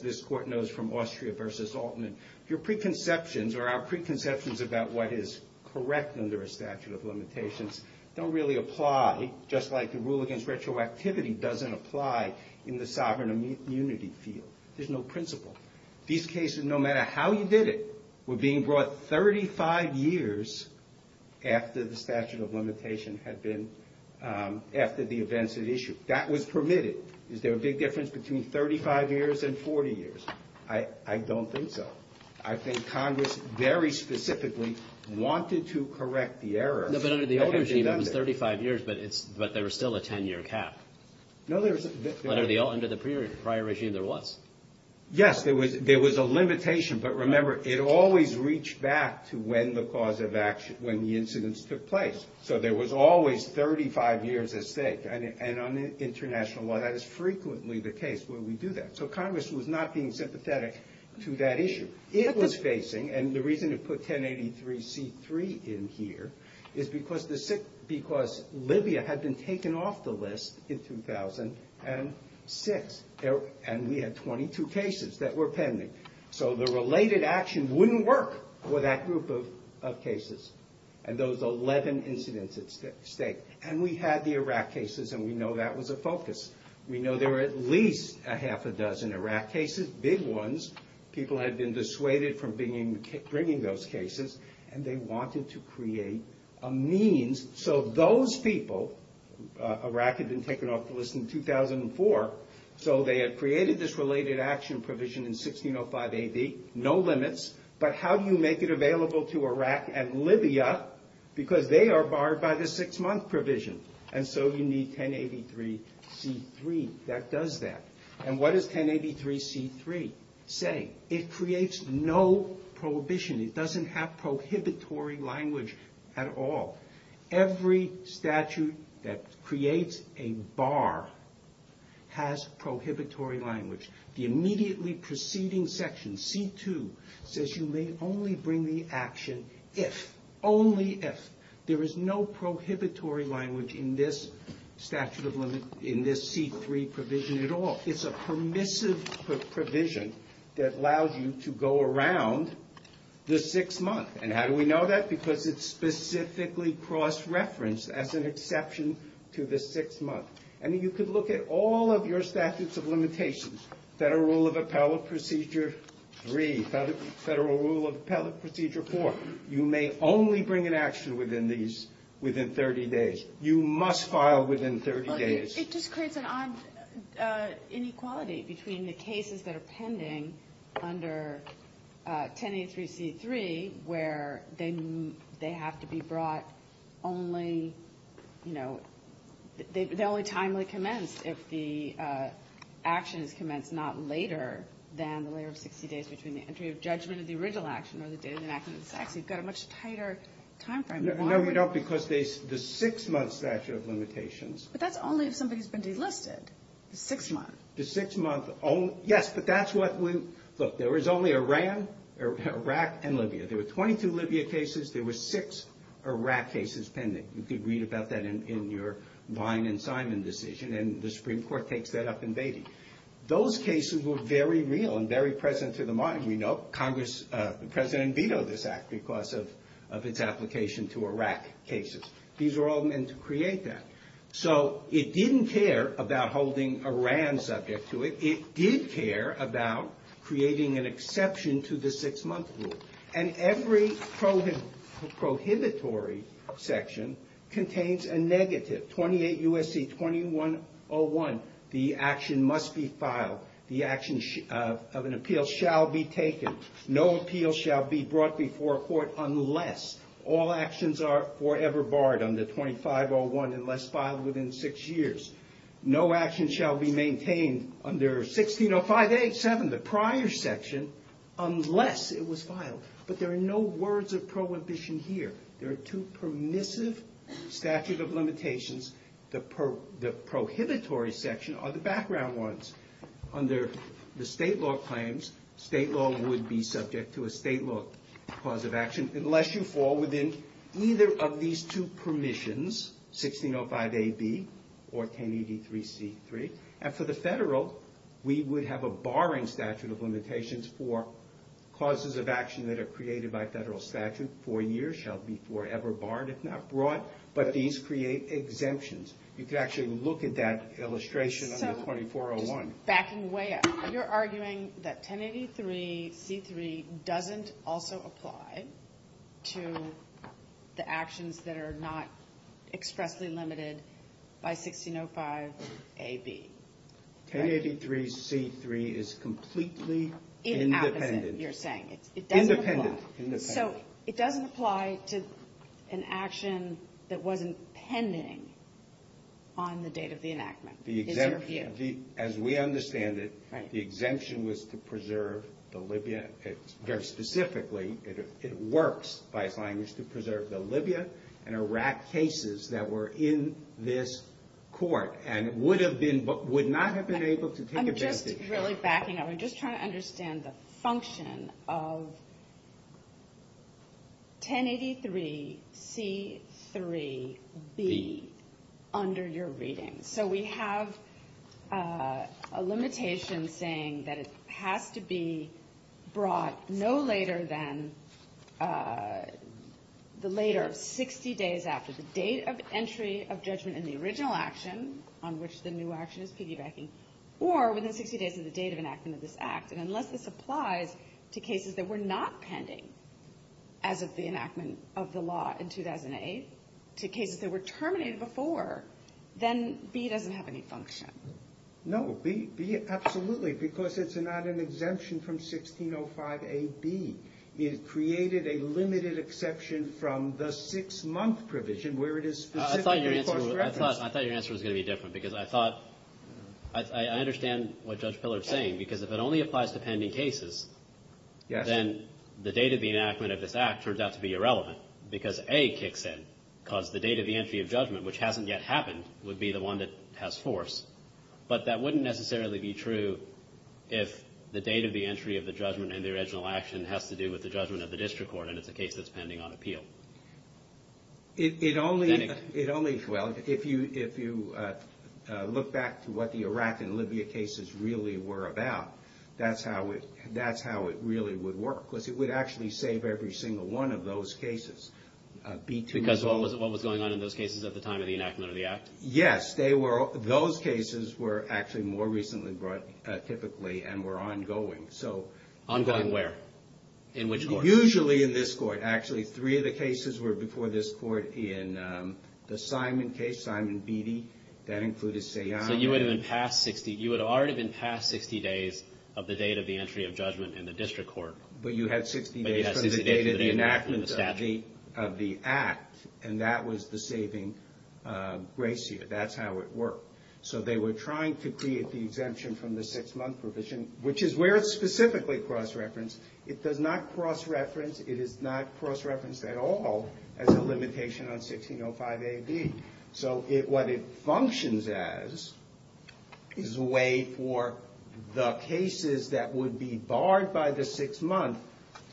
this Court knows from Austria v. Altman, your preconceptions or our preconceptions about what is correct under a statute of limitations don't really apply, just like the rule against retroactivity doesn't apply in the sovereign immunity field. There's no principle. These cases, no matter how you did it, were being brought 35 years after the statute of limitations had been, after the events at issue. That was permitted. Is there a big difference between 35 years and 40 years? I don't think so. I think Congress very specifically wanted to correct the errors. No, but under the old regime, it was 35 years, but there was still a 10-year cap. No, there was. But under the prior regime, there was. Yes, there was a limitation, but remember, it always reached back to when the cause of action, when the incidents took place. So there was always 35 years at stake. And on international law, that is frequently the case where we do that. So Congress was not being sympathetic to that issue. It was facing, and the reason it put 1083C3 in here is because Libya had been taken off the list in 2006, and we had 22 cases that were pending. So the related action wouldn't work for that group of cases, and those 11 incidents at stake. And we had the Iraq cases, and we know that was a focus. We know there were at least a half a dozen Iraq cases, big ones. People had been dissuaded from bringing those cases, and they wanted to create a means. So those people, Iraq had been taken off the list in 2004, so they had created this related action provision in 1605 A.D., no limits. But how do you make it available to Iraq and Libya? Because they are barred by the six-month provision, and so you need 1083C3 that does that. And what does 1083C3 say? It creates no prohibition. It doesn't have prohibitory language at all. Every statute that creates a bar has prohibitory language. The immediately preceding section, C2, says you may only bring the action if, only if. There is no prohibitory language in this statute of limits, in this C3 provision at all. It's a permissive provision that allows you to go around the six months. And how do we know that? Because it's specifically cross-referenced as an exception to the six months. And you could look at all of your statutes of limitations, Federal Rule of Appellate Procedure 3, Federal Rule of Appellate Procedure 4. You may only bring an action within these, within 30 days. You must file within 30 days. It just creates an odd inequality between the cases that are pending under 1083C3, where they have to be brought only, you know, they only timely commence if the actions commence not later than the later 60 days between the entry of judgment of the original action or the date of the action of the statute. You've got a much tighter time frame. No, you don't, because the six-month statute of limitations. But that's only if somebody's been delisted, the six months. The six-month only, yes, but that's what when, look, there was only Iran, Iraq, and Libya. There were 22 Libya cases. There were six Iraq cases pending. You could read about that in your Vine and Simon decision, and the Supreme Court takes that up in Beatty. Those cases were very real and very present to the mind. You know, Congress, the President vetoed this act because of its application to Iraq cases. These are all meant to create that. So it didn't care about holding Iran subject to it. It did care about creating an exception to the six-month rule. And every prohibitory section contains a negative, 28 U.S.C. 2101. The action must be filed. The action of an appeal shall be taken. No appeal shall be brought before court unless all actions are forever barred under 2501 unless filed within six years. No action shall be maintained under 1605A7, the prior section, unless it was filed. But there are no words of prohibition here. There are two permissive statutes of limitations. The prohibitory section are the background ones. Under the state law claims, state law would be subject to a state law cause of action unless you fall within either of these two permissions, 1605AB or 1083C3. And for the federal, we would have a barring statute of limitations for causes of action that are created by federal statute. Four years shall be forever barred if not brought. But these create exemptions. You can actually look at that illustration under 2401. Backing way up, you're arguing that 1083C3 doesn't also apply to the actions that are not expressly limited by 1605AB. 1083C3 is completely independent. Independent, you're saying. Independent, independent. So it doesn't apply to an action that wasn't pending on the date of the enactment, in your view. As we understand it, the exemption was to preserve the Libya. Very specifically, it works by applying this to preserve the Libya and Iraq cases that were in this court and would not have been able to take advantage of it. We're just trying to understand the function of 1083C3B under your reading. So we have a limitation saying that it has to be brought no later than the later 60 days after the date of entry of judgment in the original action, on which the new action is piggybacking, or within 60 days of the date of enactment of this act. And unless this applies to cases that were not pending as of the enactment of the law in 2008, to cases that were terminated before, then B doesn't have any function. No, B absolutely, because it's not an exemption from 1605AB. It created a limited exception from the six-month provision where it is specifically for the record. I thought your answer was going to be different, because I thought – I understand what Judge Pillar is saying, because if it only applies to pending cases, then the date of the enactment of this act turns out to be irrelevant, because A kicks in, because the date of the entry of judgment, which hasn't yet happened, would be the one that has force. But that wouldn't necessarily be true if the date of the entry of the judgment in the original action has to do with the judgment of the district court and if the case is pending on appeal. It only – well, if you look back to what the Iraq and Libya cases really were about, that's how it really would work, because it would actually save every single one of those cases. Because what was going on in those cases at the time of the enactment of the act? Yes, those cases were actually more recently brought typically and were ongoing. Ongoing where? In which court? Usually in this court. Actually, three of the cases were before this court in the Simon case, Simon Beatty. That included Sayan. So you would have already been past 60 days of the date of the entry of judgment in the district court. But you had 60 days from the date of the enactment of the act, and that was the saving ratio. That's how it worked. So they were trying to create the exemption from the six-month provision, which is where it's specifically cross-referenced. It does not cross-reference. It is not cross-referenced at all as a limitation on 1605 AD. So what it functions as is a way for the cases that would be barred by the six-month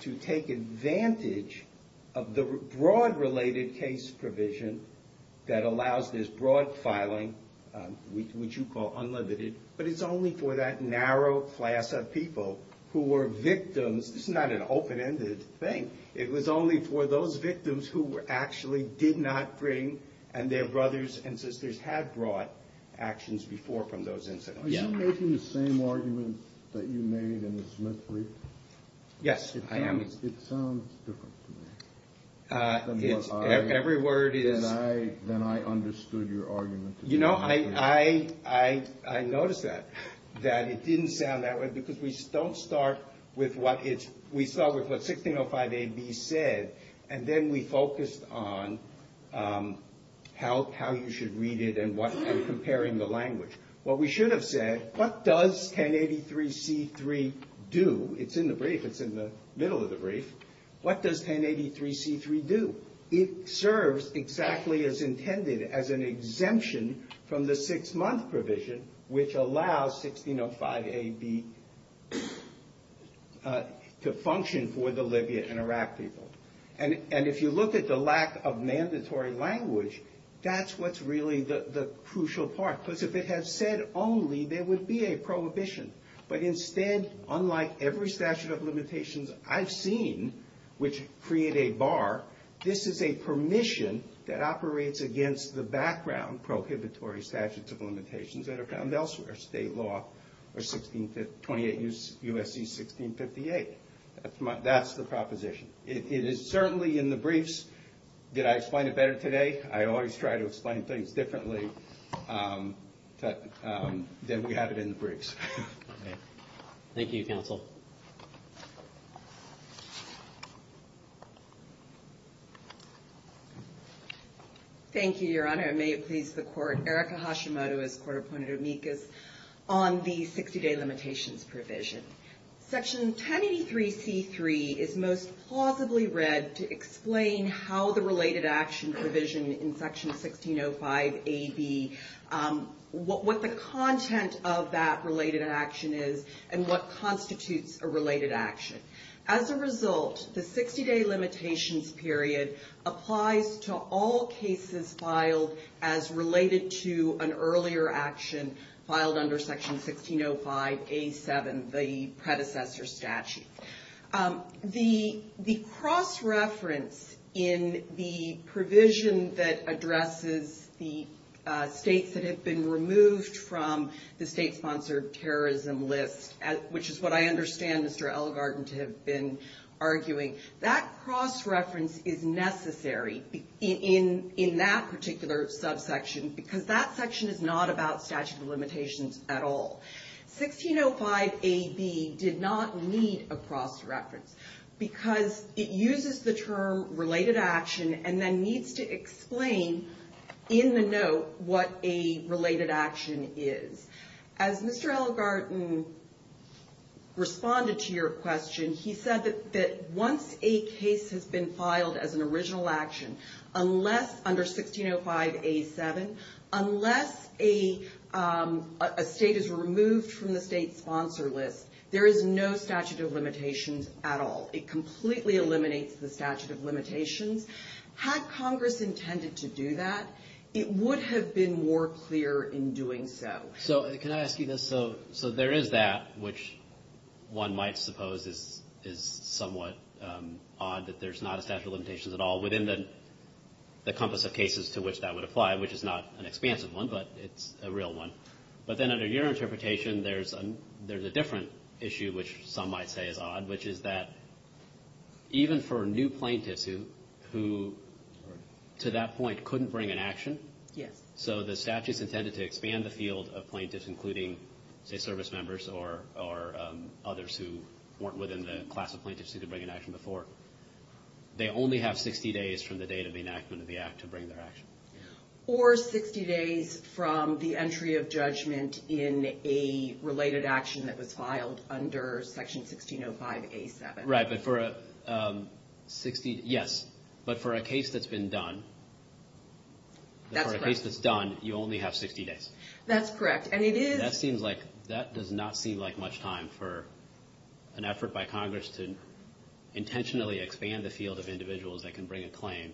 to take advantage of the broad related case provision that allows this broad filing, which you call unlimited. But it's only for that narrow class of people who were victims. It's not an open-ended thing. It was only for those victims who actually did not bring and their brothers and sisters had brought actions before from those incidents. Are you making the same arguments that you made in the Smith brief? Yes, I am. It sounds different to me. Every word is. Then I understood your argument. You know, I noticed that, that it didn't sound that way because we don't start with what it's we start with what 1605 AD said, and then we focused on how you should read it and what and comparing the language. What we should have said, what does 1083C3 do? It's in the brief. It's in the middle of the brief. What does 1083C3 do? It serves exactly as intended as an exemption from the six-month provision, which allows 1605 AD to function for the Libya and Iraq people. And if you look at the lack of mandatory language, that's what's really the crucial part. Because if it had said only, there would be a prohibition. But instead, unlike every statute of limitations I've seen, which create a bar, this is a permission that operates against the background prohibitory statutes of limitations that are found elsewhere. State law or 1628 U.S.C. 1658. That's the proposition. It is certainly in the briefs. Did I explain it better today? I always try to explain things differently, but then we have it in the briefs. Thank you, counsel. Thank you, Your Honor. May it please the court. Erica Hashimoto is a court-appointed amicus on the 60-day limitations provision. Section 1083 C.3 is most plausibly read to explain how the related action provision in Section 1605 AD, what the content of that related action is, and what constitutes a related action. As a result, the 60-day limitations period applies to all cases filed as related to an earlier action filed under Section 1605 A.7, the predecessor statute. The cross-reference in the provision that addresses the states that have been removed from the state-sponsored terrorism list, which is what I understand Mr. Elgarten has been arguing, that cross-reference is necessary in that particular subsection, because that section is not about statute of limitations at all. 1605 AD did not need a cross-reference, because it uses the term related action and then needs to explain in the note what a related action is. As Mr. Elgarten responded to your question, he said that once a case has been filed as an original action, unless under 1605 A.7, unless a state is removed from the state-sponsored list, there is no statute of limitations at all. It completely eliminates the statute of limitations. Had Congress intended to do that, it would have been more clear in doing so. So can I ask you this? So there is that, which one might suppose is somewhat odd that there's not a statute of limitations at all within the compass of 1605 A.7. It's not an expansive one, but it's a real one. But then under your interpretation, there's a different issue, which some might say is odd, which is that even for new plaintiffs who to that point couldn't bring an action, so the statute's intended to expand the field of plaintiffs, including state service members or others who weren't within the class of plaintiffs who could bring an action before, they only have 60 days from the date of the enactment of the act to bring their action. Or 60 days from the entry of judgment in a related action that was filed under Section 1605 A.7. Right, but for a 60 – yes. But for a case that's been done – That's correct. For a case that's done, you only have 60 days. That's correct, and it is – That does not seem like much time for an effort by Congress to intentionally expand the field of individuals that can bring a claim,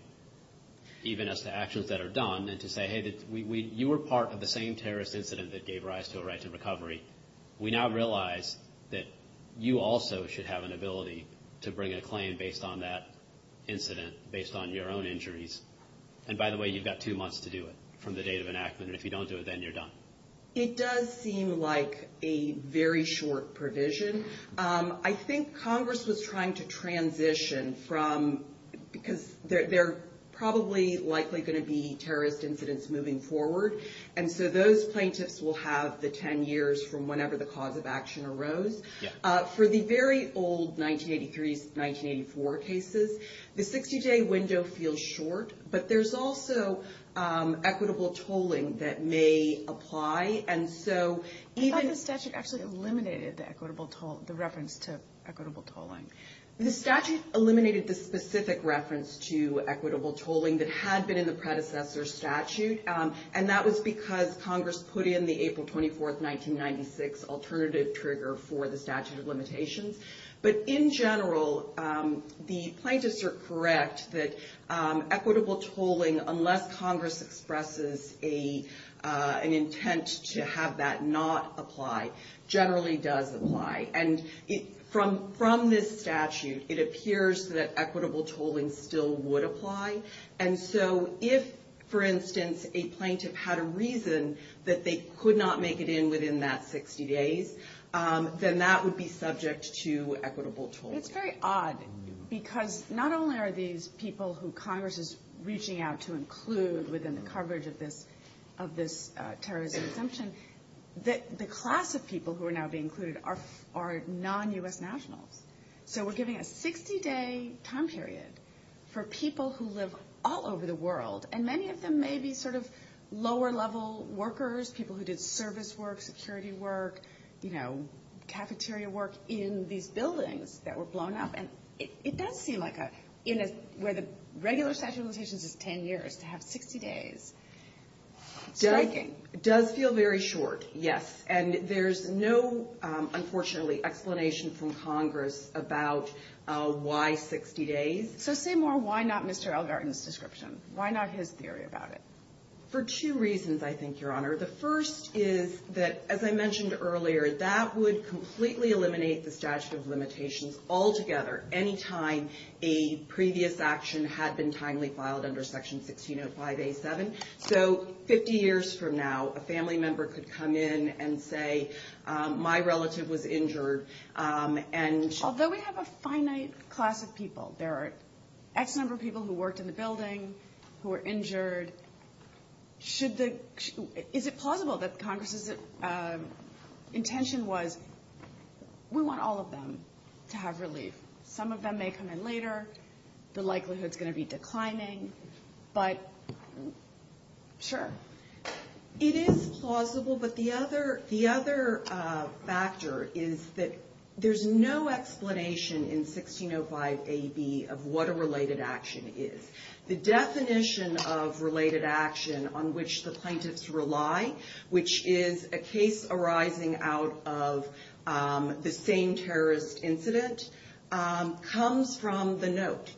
even as to actions that are done, and to say, hey, you were part of the same terrorist incident that gave rise to a right to recovery. We now realize that you also should have an ability to bring a claim based on that incident, based on your own injuries. And by the way, you've got two months to do it from the date of enactment, and if you don't do it, then you're done. It does seem like a very short provision. I think Congress was trying to transition from – because there are probably likely going to be terrorist incidents moving forward, and so those plaintiffs will have the 10 years from whenever the cause of action arose. For the very old 1983-1984 cases, the 60-day window feels short, but there's also equitable tolling that may apply, and so even – Do you think the statute actually eliminated the equitable toll – the reference to equitable tolling? The statute eliminated the specific reference to equitable tolling that had been in the predecessor statute, and that was because Congress put in the April 24, 1996 alternative trigger for the statute of limitations. But in general, the plaintiffs are correct that equitable tolling, unless Congress expresses an intent to have that not apply, generally does apply. And from this statute, it appears that equitable tolling still would apply. And so if, for instance, a plaintiff had a reason that they could not make it in within that 60 days, then that would be subject to equitable tolling. It's very odd, because not only are these people who Congress is reaching out to include within the coverage of this terrorist assumption, the class of people who are now being included are non-U.S. nationals. So we're giving a 60-day time period for people who live all over the world. And many of them may be sort of lower-level workers, people who did service work, security work, you know, cafeteria work in these buildings that were blown up. And it does seem like a – where the regular statute of limitations is 10 years, to have 60 days. Striking. It does feel very short, yes. And there's no, unfortunately, explanation from Congress about why 60 days. So say more, why not Mr. Elgarten's description? Why not his theory about it? For two reasons, I think, Your Honor. The first is that, as I mentioned earlier, that would completely eliminate the statute of limitations altogether, any time a previous action had been timely filed under Section 160587. So 50 years from now, a family member could come in and say, my relative was injured, and – Although we have a finite class of people, there are X number of people who worked in the building, who were injured. Should the – is it plausible that Congress's intention was, we want all of them to have relief? Some of them may come in later. The likelihood is going to be declining. But, sure. It is plausible, but the other factor is that there's no explanation in 1605 AD of what a related action is. The definition of related action on which the plaintiffs rely, which is a case arising out of the same terrorist incident, comes from the note.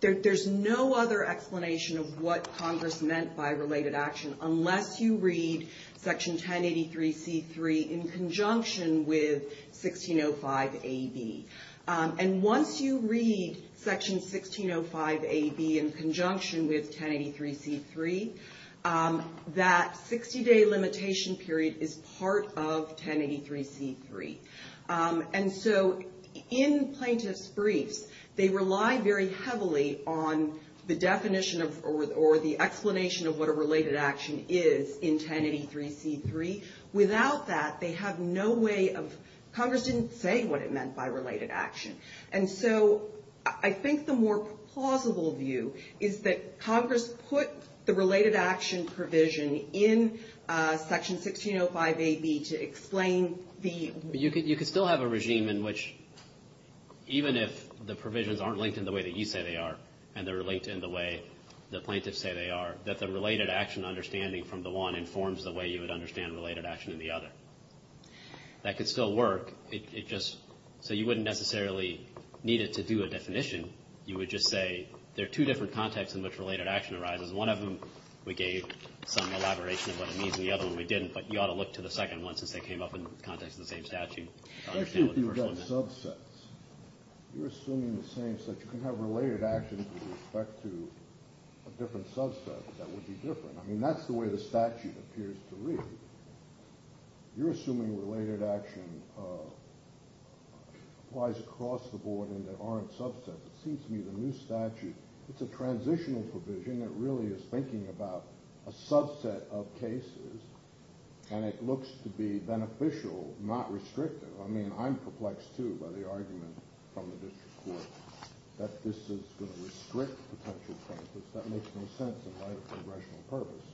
There's no other explanation of what Congress meant by related action, unless you read Section 1083C3 in conjunction with 1605 AD. And once you read Section 1605 AD in conjunction with 1083C3, that 60-day limitation period is part of 1083C3. And so, in plaintiff's brief, they rely very heavily on the definition of – or the explanation of what a related action is in 1083C3. Without that, they have no way of – Congress didn't say what it meant by related action. And so, I think the more plausible view is that Congress put the related action provision in Section 1605 AD to explain the – You could still have a regime in which, even if the provisions aren't linked in the way that you say they are, and they're linked in the way the plaintiffs say they are, that the related action understanding from the one informs the way you would understand related action in the other. That could still work. It just – so you wouldn't necessarily need it to do a definition. You would just say there are two different contexts in which related action arises. One of them we gave some elaboration of what it means, and the other one we didn't. But you ought to look to the second one, since they came up in the context of the same statute. Especially if you've got subsets. You're assuming the same – so you can have related action with respect to a different subset. That would be different. I mean, that's the way the statute appears to read. You're assuming related action lies across the board, and they aren't subsets. It seems to me the new statute, it's a transitional provision that really is thinking about a subset of cases, and it looks to be beneficial, not restrictive. I mean, I'm perplexed, too, by the argument from the district court that this is going to restrict potential plaintiffs. That makes no sense in light of congressional purpose.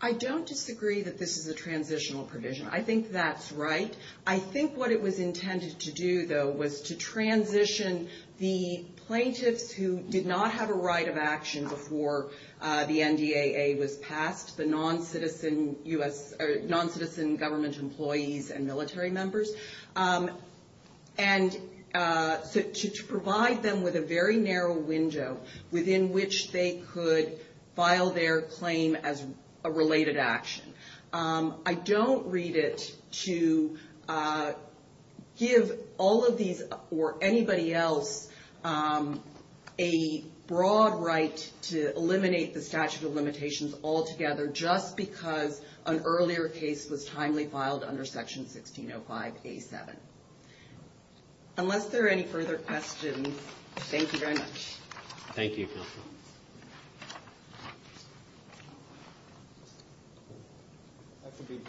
I don't disagree that this is a transitional provision. I think that's right. I think what it was intended to do, though, was to transition the plaintiffs who did not have a right of action before the NDAA was passed, the non-citizen government employees and military members, and to provide them with a very narrow window within which they could file their claim as a related action. I don't read it to give all of these or anybody else a broad right to eliminate the statute of limitations altogether, just because an earlier case was timely filed under Section 1605-87. Unless there are any further questions, thank you very much. Thank you. That will be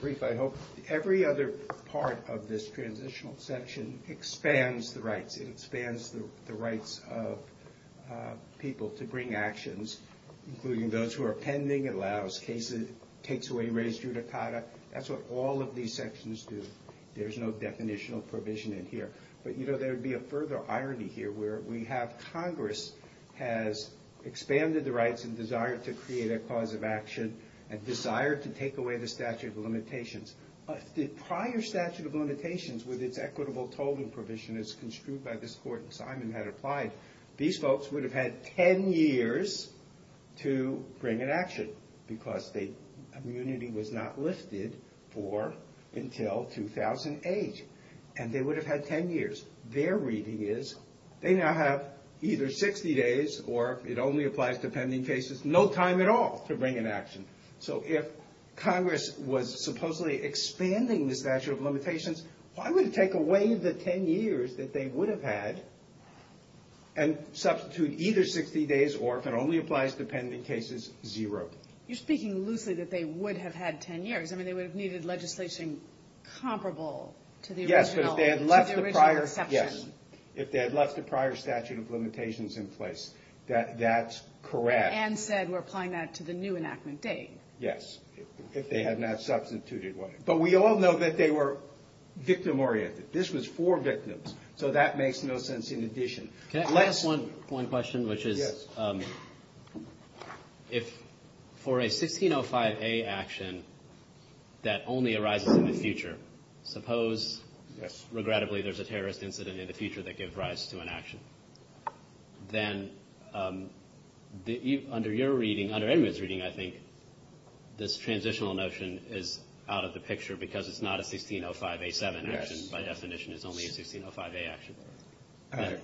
brief, I hope. Every other part of this transitional section expands the rights. It expands the rights of people to bring actions, including those who are pending, allows cases, takes away registered et cetera. That's what all of these sections do. There's no definitional provision in here. But, you know, there would be a further irony here where we have Congress has expanded the rights and desire to create a cause of action and desire to take away the statute of limitations. The prior statute of limitations with its equitable tolling provision is construed by this court, and Simon had it applied. These folks would have had ten years to bring an action because the immunity was not lifted for until 2008. And they would have had ten years. Their reading is they now have either 60 days or, if it only applies to pending cases, no time at all to bring an action. So if Congress was supposedly expanding the statute of limitations, why would it take away the ten years that they would have had and substitute either 60 days or, if it only applies to pending cases, zero? You're speaking loosely that they would have had ten years. I mean, they would have needed legislation comparable to the original. Yes, if they had left the prior statute of limitations in place. That's correct. Ann said we're applying that to the new enactment date. Yes, if they had not substituted one. But we all know that they were victim-oriented. This was for victims, so that makes no sense in addition. Can I ask one question, which is, if for a 1605A action that only arises in the future, suppose, regrettably, there's a terrorist incident in the future that gives rise to an action, then under your reading, under everyone's reading, I think, this transitional notion is out of the picture because it's not a 1605A7 action by definition. It's only a 1605A action.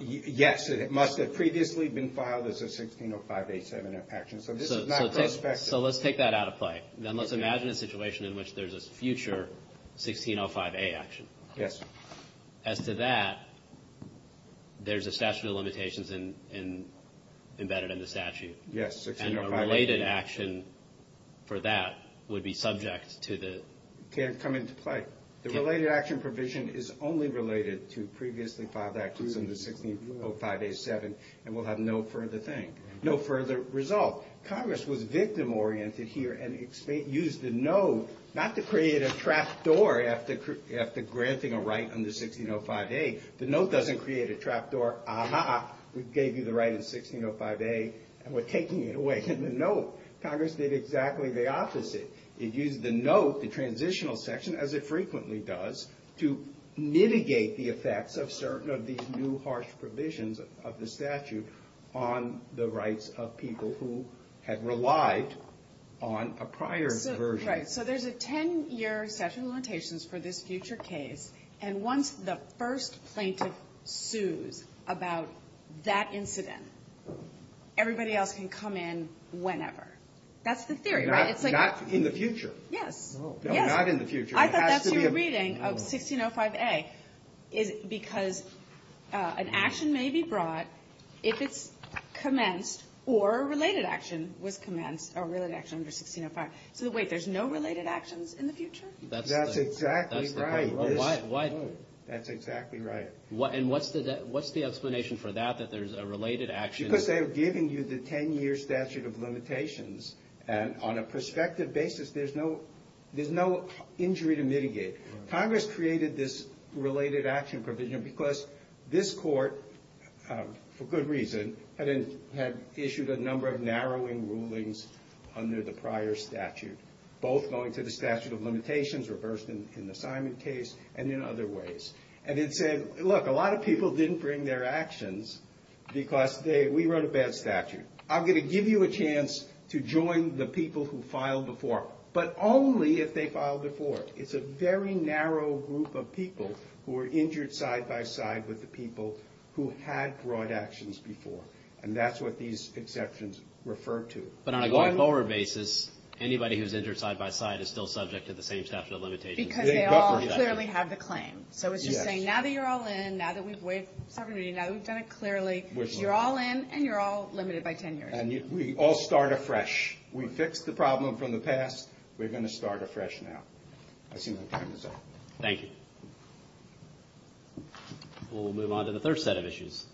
Yes, it must have previously been filed as a 1605A7 action. So this is not specified. So let's take that out of play. Then let's imagine a situation in which there's a future 1605A action. Yes. As to that, there's a statute of limitations embedded in the statute. Yes, 1605A7. And a related action for that would be subject to the... Can't come into play. The related action provision is only related to previously filed actions under 1605A7, and we'll have no further thing, no further result. Congress was victim-oriented here and used the note not to create a trapdoor after granting a right under 1605A. The note doesn't create a trapdoor. Aha, we gave you the right in 1605A, and we're taking it away in the note. Congress did exactly the opposite. It used the note, the transitional section, as it frequently does, to mitigate the effects of certain of these new harsh provisions of the statute on the rights of people who had relied on a prior version. Right. So there's a 10-year statute of limitations for this future case, and once the first plaintiff sues about that incident, everybody else can come in whenever. That's the theory, right? Not in the future. Yes. Not in the future. I thought that was your reading of 1605A, because an action may be brought if it's commenced, or a related action was commenced, or a related action under 1605. So wait, there's no related actions in the future? That's exactly right. That's exactly right. And what's the explanation for that, that there's a related action? Because they're giving you the 10-year statute of limitations, and on a prospective basis, there's no injury to mitigate. Congress created this related action provision because this court, for good reason, had issued a number of narrowing rulings under the prior statute, both going to the statute of limitations reversed in the Simon case and in other ways. And it said, look, a lot of people didn't bring their actions because we wrote a bad statute. I'm going to give you a chance to join the people who filed before, but only if they filed before. It's a very narrow group of people who were injured side-by-side with the people who had brought actions before, and that's what these exceptions refer to. But on a going forward basis, anybody who's injured side-by-side is still subject to the same statute of limitations. Because they all clearly have the claim. So it's just saying, now that you're all in, now that we've waived programming, now that we've done it clearly, you're all in and you're all limited by 10 years. And we all start afresh. We've fixed the problem from the past. We're going to start afresh now. I see my time is up. Thank you. We'll move on to the third set of issues.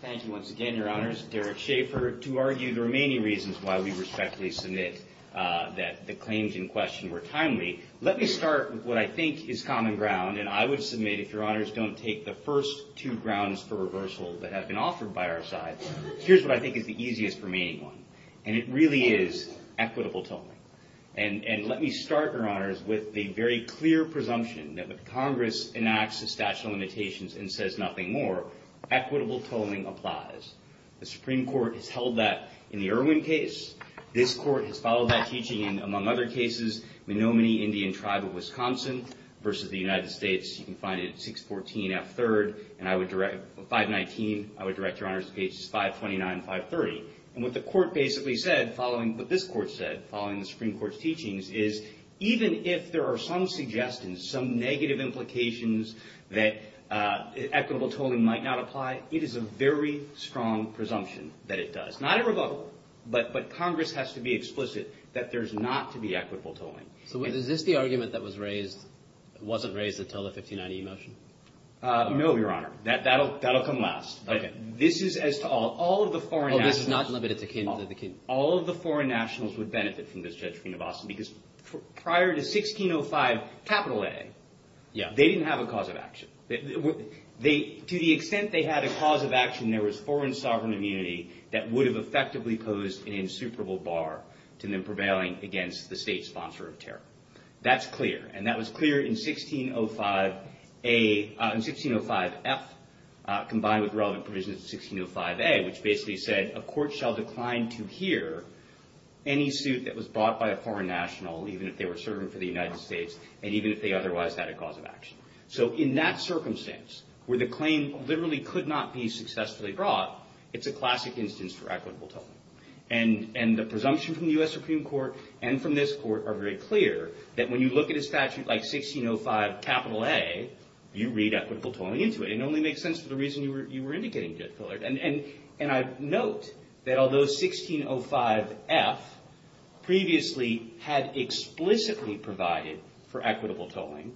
Thank you once again, Your Honors. To argue the remaining reasons why we respectfully submit that the claims in question were timely, let me start with what I think is common ground, and I would submit, if Your Honors don't take the first two grounds for reversal that have been offered by our side, here's what I think is the easiest remaining one. And it really is equitable tolling. And let me start, Your Honors, with the very clear presumption that if Congress enacts the statute of limitations and says nothing more, equitable tolling applies. The Supreme Court has held that in the Irwin case. This court has followed that teaching in, among other cases, the Nominee Indian Tribe of Wisconsin versus the United States. You can find it at 614 F3rd and 519. I would direct Your Honors to cases 529 and 530. And what the court basically said, following what this court said, following the Supreme Court's teachings, is even if there are some suggestions, some negative implications that equitable tolling might not apply, it is a very strong presumption that it does. Not a rebuttal, but Congress has to be explicit that there's not to be equitable tolling. So is this the argument that was raised, wasn't raised until the 1590 motion? No, Your Honor. That'll come last. Okay. This is as to all. All of the foreign nationals. Oh, this is not limited to him. Prior to 1605 A, they didn't have a cause of action. To the extent they had a cause of action, there was foreign sovereign immunity that would have effectively posed an insuperable bar to their prevailing against the state sponsor of terror. That's clear. And that was clear in 1605 F, combined with relevant provisions in 1605 A, which basically said a court shall decline to hear any suit that was brought by a foreign national, even if they were serving for the United States, and even if they otherwise had a cause of action. So in that circumstance, where the claim literally could not be successfully brought, it's a classic instance for equitable tolling. And the presumption from the U.S. Supreme Court and from this court are very clear that when you look at a statute like 1605 A, you read equitable tolling into it. And it only makes sense for the reason you were indicating, Judge Pillard. And I note that although 1605 F previously had explicitly provided for equitable tolling,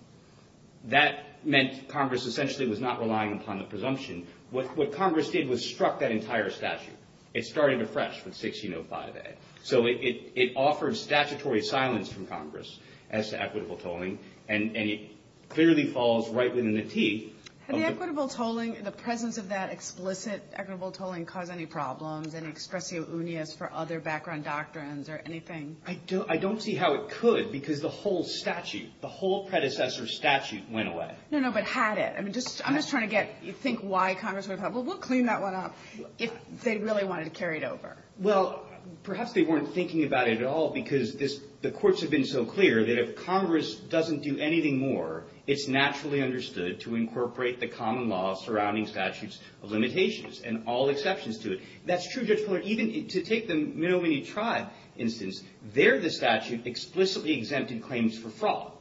that meant Congress essentially was not relying upon the presumption. What Congress did was struck that entire statute. It started afresh with 1605 A. So it offers statutory silence from Congress as to equitable tolling. And it clearly falls right within the teeth. Have the equitable tolling, the presence of that explicit equitable tolling, caused any problems, any expressio unias for other background doctrines or anything? I don't see how it could because the whole statute, the whole predecessor statute went away. No, no, but had it. I'm just trying to think why Congress would have. Well, we'll clean that one up if they really wanted to carry it over. Well, perhaps they weren't thinking about it at all because the courts have been so clear that if Congress doesn't do anything more, it's naturally understood to incorporate the common law surrounding statute's limitations and all exceptions to it. And that's true, Judge Pillard, even to take the Menominee Tribe instance, there the statute explicitly exempted claims for fraud.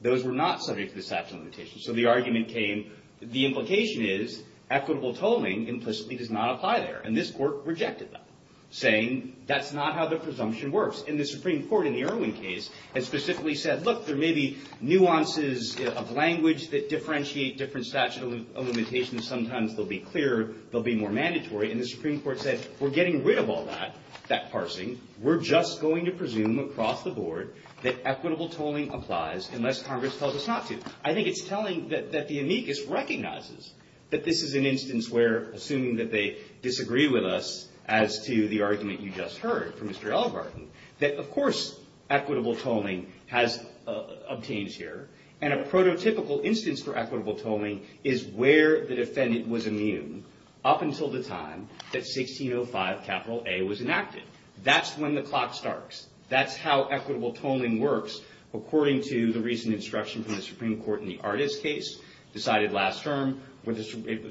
Those were not subject to the statute of limitations. So the argument came, the implication is equitable tolling implicitly does not apply there. And this court rejected that, saying that's not how the presumption works. And the Supreme Court in the Irwin case has specifically said, look, there may be nuances of language that differentiate different statute of limitations. Sometimes they'll be clearer. They'll be more mandatory. And the Supreme Court said, we're getting rid of all that, that parsing. We're just going to presume across the board that equitable tolling applies unless Congress tells us not to. I think it's telling that the amicus recognizes that this is an instance where, assuming that they disagree with us as to the argument you just heard from Mr. Ellegarten, that, of course, equitable tolling has obtained here. And a prototypical instance for equitable tolling is where the defendant was immune up until the time that 1605 capital A was enacted. That's when the clock starts. That's how equitable tolling works according to the recent instruction from the Supreme Court in the Ardis case, decided last term, a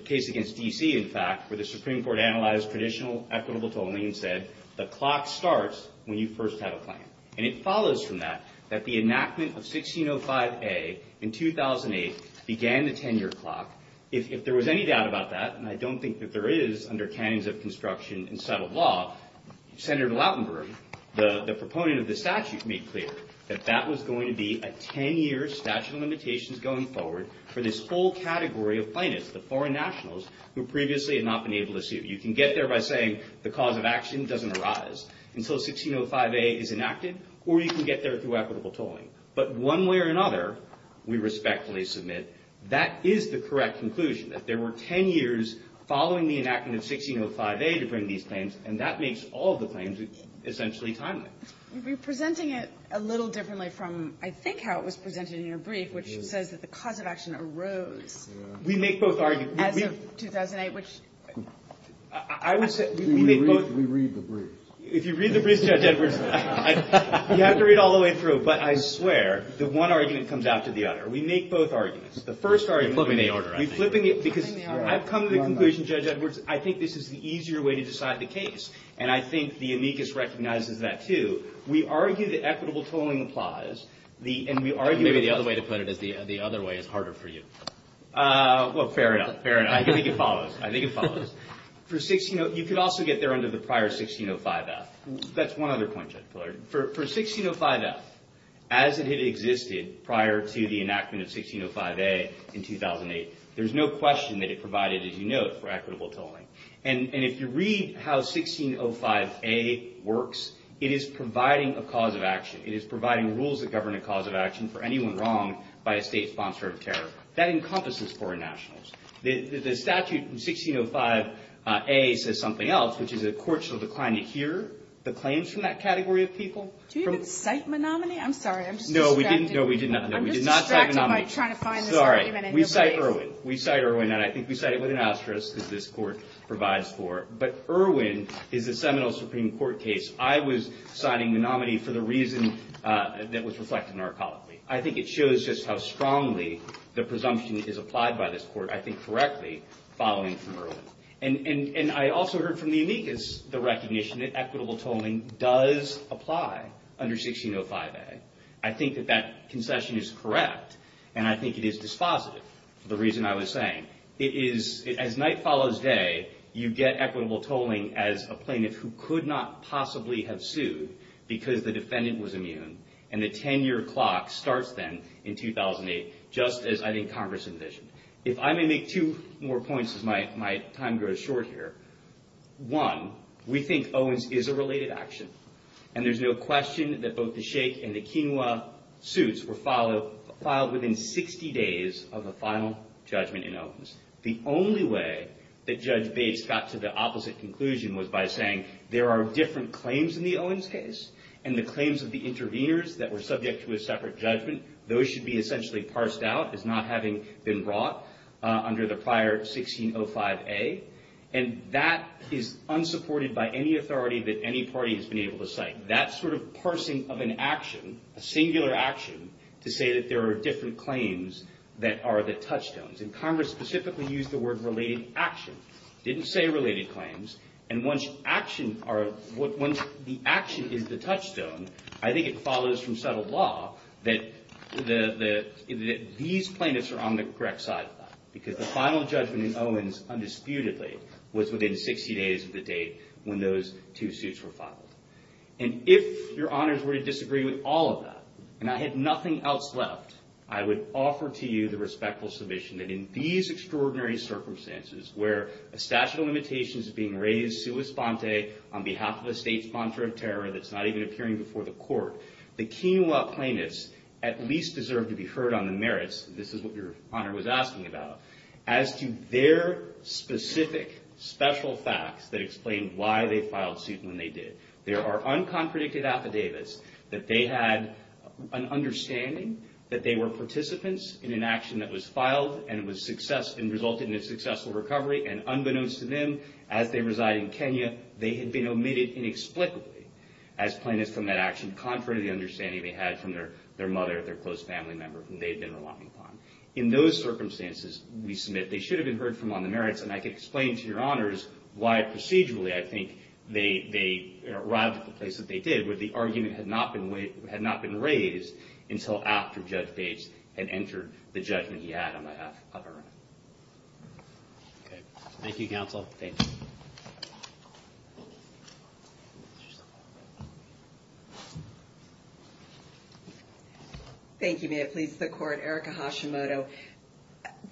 case against D.C., in fact, where the Supreme Court analyzed traditional equitable tolling and said the clock starts when you first have a claim. And it follows from that that the enactment of 1605A in 2008 began the 10-year clock. If there was any doubt about that, and I don't think that there is under canons of construction and settled law, Senator Blattenberg, the proponent of the statute, that that was going to be a 10-year statute of limitations going forward for this whole category of plaintiffs, the foreign nationals who previously had not been able to sue. You can get there by saying the cause of action doesn't arise until 1605A is enacted, or you can get there through equitable tolling. But one way or another, we respectfully submit, that is the correct conclusion, that there were 10 years following the enactment of 1605A to bring these claims, and that makes all the claims essentially timely. You've been presenting it a little differently from, I think, how it was presented in your brief, which says that the cause of action arose as of 2008, which... I would say... We read the brief. If you read the brief, Judge Edwards, you have to read all the way through, but I swear that one argument comes after the other. We make both arguments. The first argument... We're flipping the order, I think. We're flipping it because I've come to the conclusion, Judge Edwards, I think this is the easier way to decide the case, and I think the amicus recognizes that, too. We argue that equitable tolling applies, and we argue... Maybe the other way to put it is the other way is harder for you. Well, fair enough. Fair enough. I think it follows. I think it follows. You could also get there under the prior 1605F. That's one other point, Judge Pillard. For 1605F, as it had existed prior to the enactment of 1605A in 2008, there's no question that it provided, as you note, for equitable tolling. And if you read how 1605A works, it is providing a cause of action. It is providing rules that govern a cause of action for anyone wronged by a state sponsor of care. That encompasses foreign nationals. The statute from 1605A says something else, which is that courts are inclined to hear the claims from that category of people. Do you cite Menominee? I'm sorry. No, we did not cite Menominee. I'm sorry. We cite Irwin. We cite Irwin, and I think we cite it with an asterisk because this court provides for it. But Irwin is a seminal Supreme Court case. I was citing Menominee for the reason that was reflected in our colleague. I think it shows just how strongly the presumption is applied by this court, I think correctly, following from Irwin. And I also heard from the amicus the recognition that equitable tolling does apply under 1605A. I think that that concession is correct, and I think it is dispositive. The reason I was saying, as night follows day, you get equitable tolling as a plaintiff who could not possibly have sued because the defendant was immune, and the 10-year clock starts then in 2008, just as I think Congress envisioned. If I may make two more points because my time grows short here. One, we think Owens is a related action, and there's no question that both the Shake and the Quinoa suits were filed within 60 days of the final judgment in Owens. The only way that Judge Bates got to the opposite conclusion was by saying there are different claims in the Owens case, and the claims of the intervenors that were subject to a separate judgment, those should be essentially parsed out as not having been brought under the prior 1605A, and that is unsupported by any authority that any party has been able to cite. That sort of parsing of an action, a singular action, to say that there are different claims that are the touchstones, and Congress specifically used the word related action, didn't say related claims, and once the action is the touchstone, I think it follows from settled law that these plaintiffs are on the correct side of that because the final judgment in Owens, undisputedly, was within 60 days of the date when those two suits were filed. And if Your Honors were to disagree with all of that, and I had nothing else left, I would offer to you the respectful submission that in these extraordinary circumstances where a stash of limitations is being raised sui sponte on behalf of a state sponsor of terror that's not even appearing before the court, the Kenewa plaintiffs at least deserve to be heard on the merits, and this is what Your Honor was asking about, as to their specific special facts that explain why they filed suit when they did. There are unconcredited affidavits that they had an understanding that they were participants in an action that was filed and resulted in a successful recovery, and unbeknownst to them, as they reside in Kenya, they had been omitted inexplicably as plaintiffs from that action, contrary to the understanding they had from their mother or their close family member whom they had been relying upon. In those circumstances, we submit they should have been heard from on the merits, and I can explain to Your Honors why procedurally I think they arrived at the place that they did when the argument had not been raised until after Judge Bates had entered the judgment he had on behalf of her. Okay. Thank you, Counsel. Thank you, Mayor. Please, the court. Erica Hashimoto.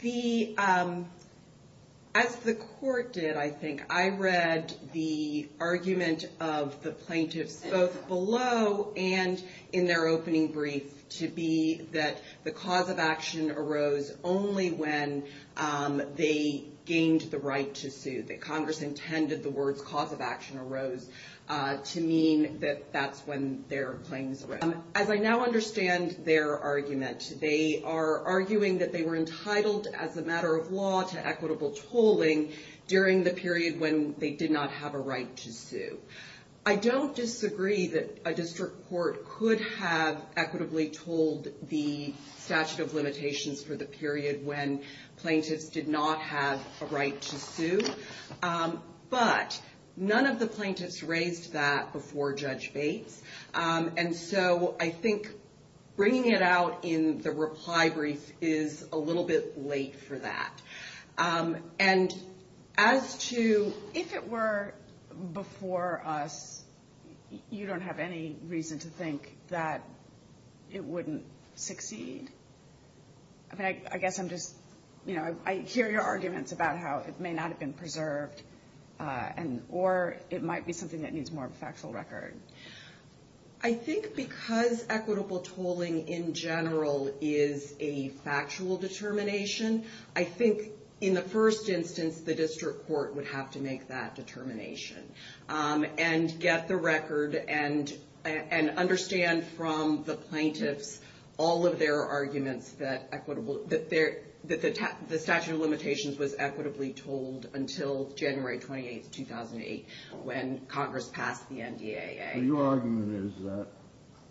The, as the court did, I think, I read the argument of the plaintiffs, both below and in their opening brief, to be that the cause of action arose only when they gained the right to sue, that Congress intended the word cause of action arose to mean that that's when their claims arose. As I now understand their argument, they are arguing that they were entitled, as a matter of law, to equitable tolling during the period when they did not have a right to sue. I don't disagree that a district court could have equitably tolled the statute of limitations for the period when plaintiffs did not have a right to sue, but none of the plaintiffs raised that before Judge Bates, and so I think bringing it out in the reply brief is a little bit late for that. And as to if it were before us, you don't have any reason to think that it wouldn't succeed. I guess I'm just, you know, I hear your arguments about how it may not have been preserved, or it might be something that needs more factual record. I think because equitable tolling in general is a factual determination, I think in the first instance the district court would have to make that determination and get the record and understand from the plaintiffs all of their arguments that the statute of limitations was equitably tolled until January 28, 2008, when Congress passed the NDAA. Your argument is that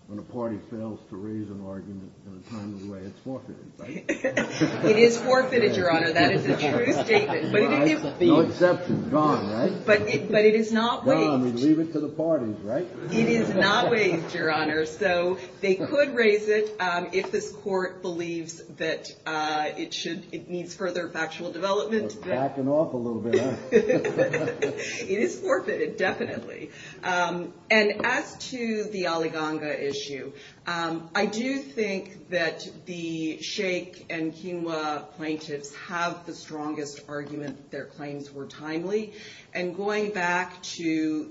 when a party fails to raise an argument in a timely way, it's forfeited, right? It is forfeited, Your Honor, that is a true statement. No exceptions, gone, right? Gone, we leave it to the parties, right? It is not raised, Your Honor, so they could raise it if this court believes that it needs further factual development. It's backing off a little bit, huh? It is forfeited, definitely. And as to the Aliganga issue, I do think that the Shake and Quinoa plaintiffs have the strongest argument that their claims were timely, and going back to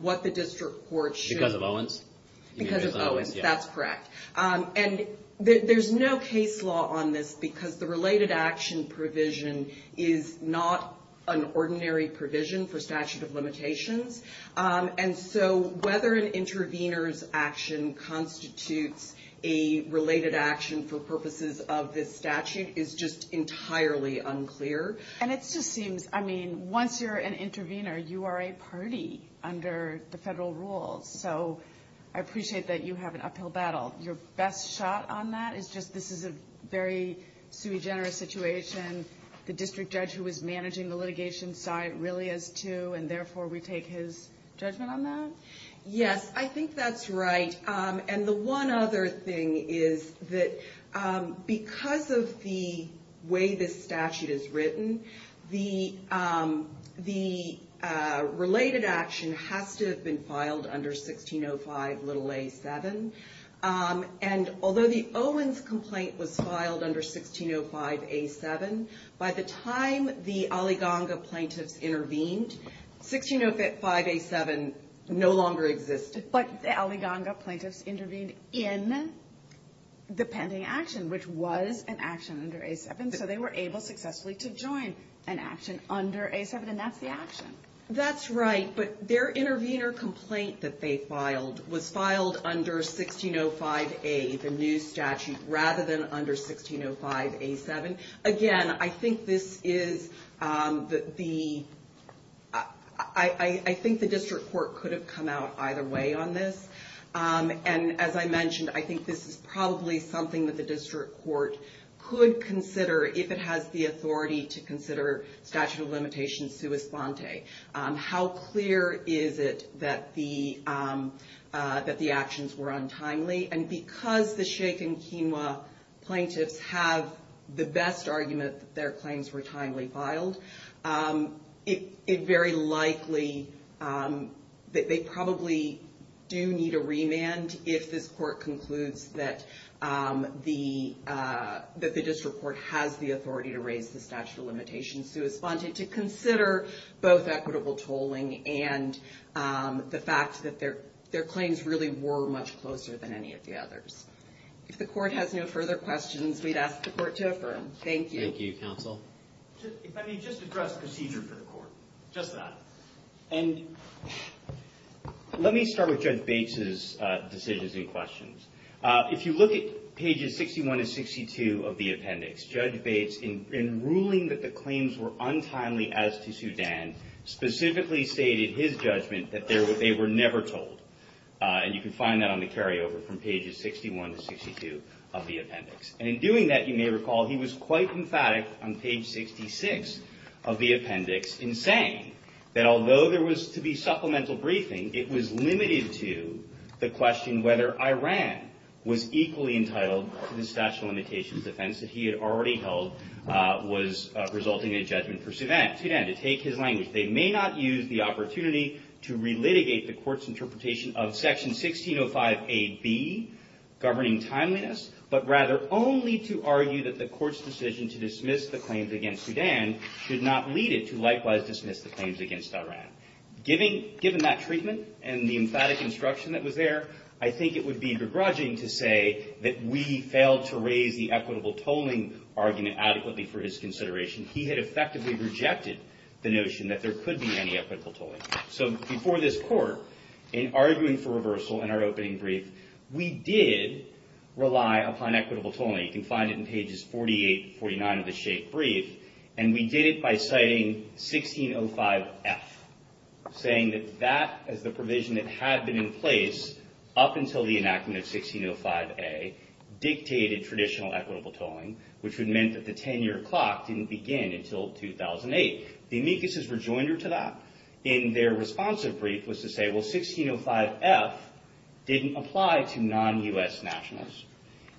what the district court should have done. Because of Owens? Because of Owens, that's correct. And there's no case law on this because the related action provision is not an ordinary provision for statute of limitations. And so whether an intervener's action constitutes a related action for purposes of this statute is just entirely unclear. And it just seems, I mean, once you're an intervener, you are a party under the federal rules. So I appreciate that you have an uphill battle. Your best shot on that is just this is a very sui generis situation. The district judge who is managing the litigation side really is, too, and therefore we take his judgment on that? Yes, I think that's right. And the one other thing is that because of the way this statute is written, the related action has to have been filed under 1605a7. And although the Owens complaint was filed under 1605a7, by the time the Aliganga plaintiffs intervened, 1605a7 no longer existed. But the Aliganga plaintiffs intervened in the pending action, which was an action under a7. So they were able successfully to join an action under a7, and that's the action. That's right, but their intervener complaint that they filed was filed under 1605a, the new statute, rather than under 1605a7. Again, I think the district court could have come out either way on this. And as I mentioned, I think this is probably something that the district court could consider if it has the authority to consider statute of limitations sua sante. How clear is it that the actions were untimely? And because the Sheikh and Quinoa plaintiffs have the best argument that their claims were timely filed, it's very likely that they probably do need a remand if this court concludes that the district court has the authority to raise the statute of limitations sua sante to consider both equitable tolling and the fact that their claims really were much closer than any of the others. If the court has no further questions, we'd ask the court to affirm. Thank you. Thank you, counsel. Let me just address procedure for the court, just that. And let me start with Judge Bates's decisions and questions. If you look at pages 61 and 62 of the appendix, Judge Bates, in ruling that the claims were untimely as to Sudan, specifically stated his judgment that they were never tolled. And you can find that on the carryover from pages 61 and 62 of the appendix. And in doing that, you may recall, he was quite emphatic on page 66 of the appendix in saying that although there was to be supplemental briefing, it was limited to the question whether Iran was equally entitled to this statute of limitations defense that he had already held was resulting in a judgment for Sudan. Sudan, to take his language, they may not use the opportunity to relitigate the court's interpretation of section 1605A-B, governing timeliness, but rather only to argue that the court's decision to dismiss the claims against Sudan did not lead it to likewise dismiss the claims against Iran. Given that treatment and the emphatic instruction that was there, I think it would be begrudging to say that we failed to raise the equitable tolling argument adequately for his consideration. He had effectively rejected the notion that there could be any equitable tolling. So before this court, in arguing for reversal in our opening brief, we did rely upon equitable tolling. You can find it in pages 48 and 49 of the shape brief. And we did it by citing 1605F, saying that that is the provision that had been in place up until the enactment of 1605A, dictated traditional equitable tolling, which would mean that the 10-year clock didn't begin until 2008. The amicus' rejoinder to that, in their responsive brief, was to say, well, 1605F didn't apply to non-U.S. nationalists.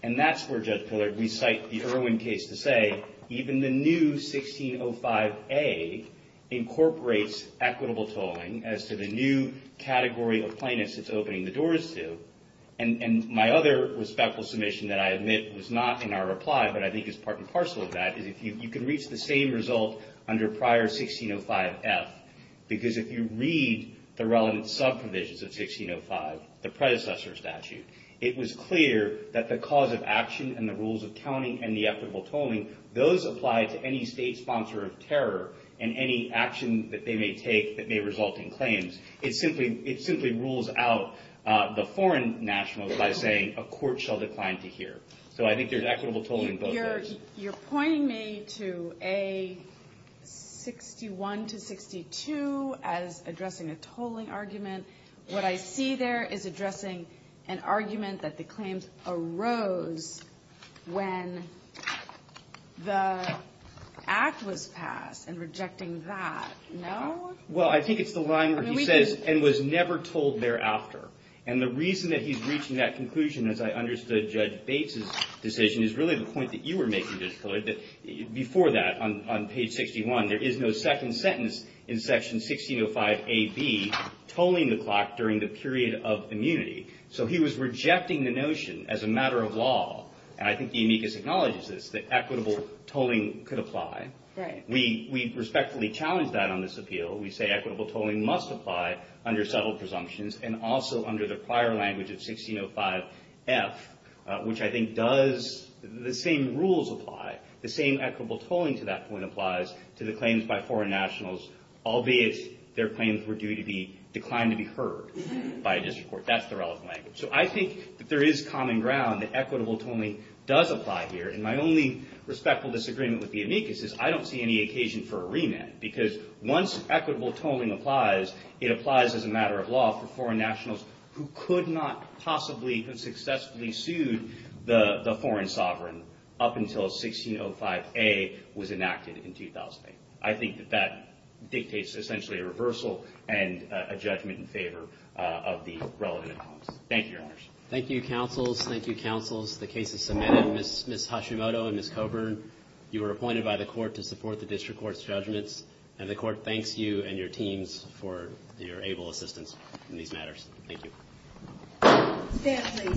And that's where, just to recite the Irwin case to say, even the new 1605A incorporates equitable tolling as to the new category of plaintiffs it's opening the doors to. And my other respectful submission that I admit was not in our reply, but I think is part and parcel of that, is that you can reach the same result under prior 1605F. Because if you read the relevant subcommissions of 1605, the predecessor statute, it was clear that the cause of action and the rules of counting and the equitable tolling, those apply to any state sponsor of terror and any action that they may take that may result in claims. It simply rules out the foreign nationalists by saying, a court shall decline to hear. So I think there's equitable tolling both ways. So you're pointing me to A61 to 62 as addressing a tolling argument. What I see there is addressing an argument that the claims arose when the act was passed and rejecting that, no? Well, I think it's the line where he says, and was never told thereafter. And the reason that he's reaching that conclusion, as I understood Judge Bates' decision, is really the point that you were making, Judge Floyd, that before that, on page 61, there is no second sentence in section 1605AB tolling the clock during the period of immunity. So he was rejecting the notion as a matter of law, and I think the amicus acknowledges this, that equitable tolling could apply. We respectfully challenge that on this appeal. We say equitable tolling must apply under subtle presumptions and also under the prior language of 1605F, which I think does the same rules apply. The same equitable tolling to that point applies to the claims by foreign nationals, albeit their claims were due to be declined to be heard by a district court. That's the relevant language. So I think that there is common ground that equitable tolling does apply here, and my only respectful disagreement with the amicus is I don't see any occasion for a remand, because once equitable tolling applies, it applies as a matter of law for foreign nationals who could not possibly have successfully sued the foreign sovereign up until 1605A was enacted in 2008. I think that that dictates essentially a reversal and a judgment in favor of the relevant clause. Thank you, Your Honors. Thank you, counsels. Thank you, counsels. The cases submitted, Ms. Hashimoto and Ms. Coburn, you were appointed by the court to support the district court's judgments, and the court thanks you and your teams for your able assistance in these matters. Thank you.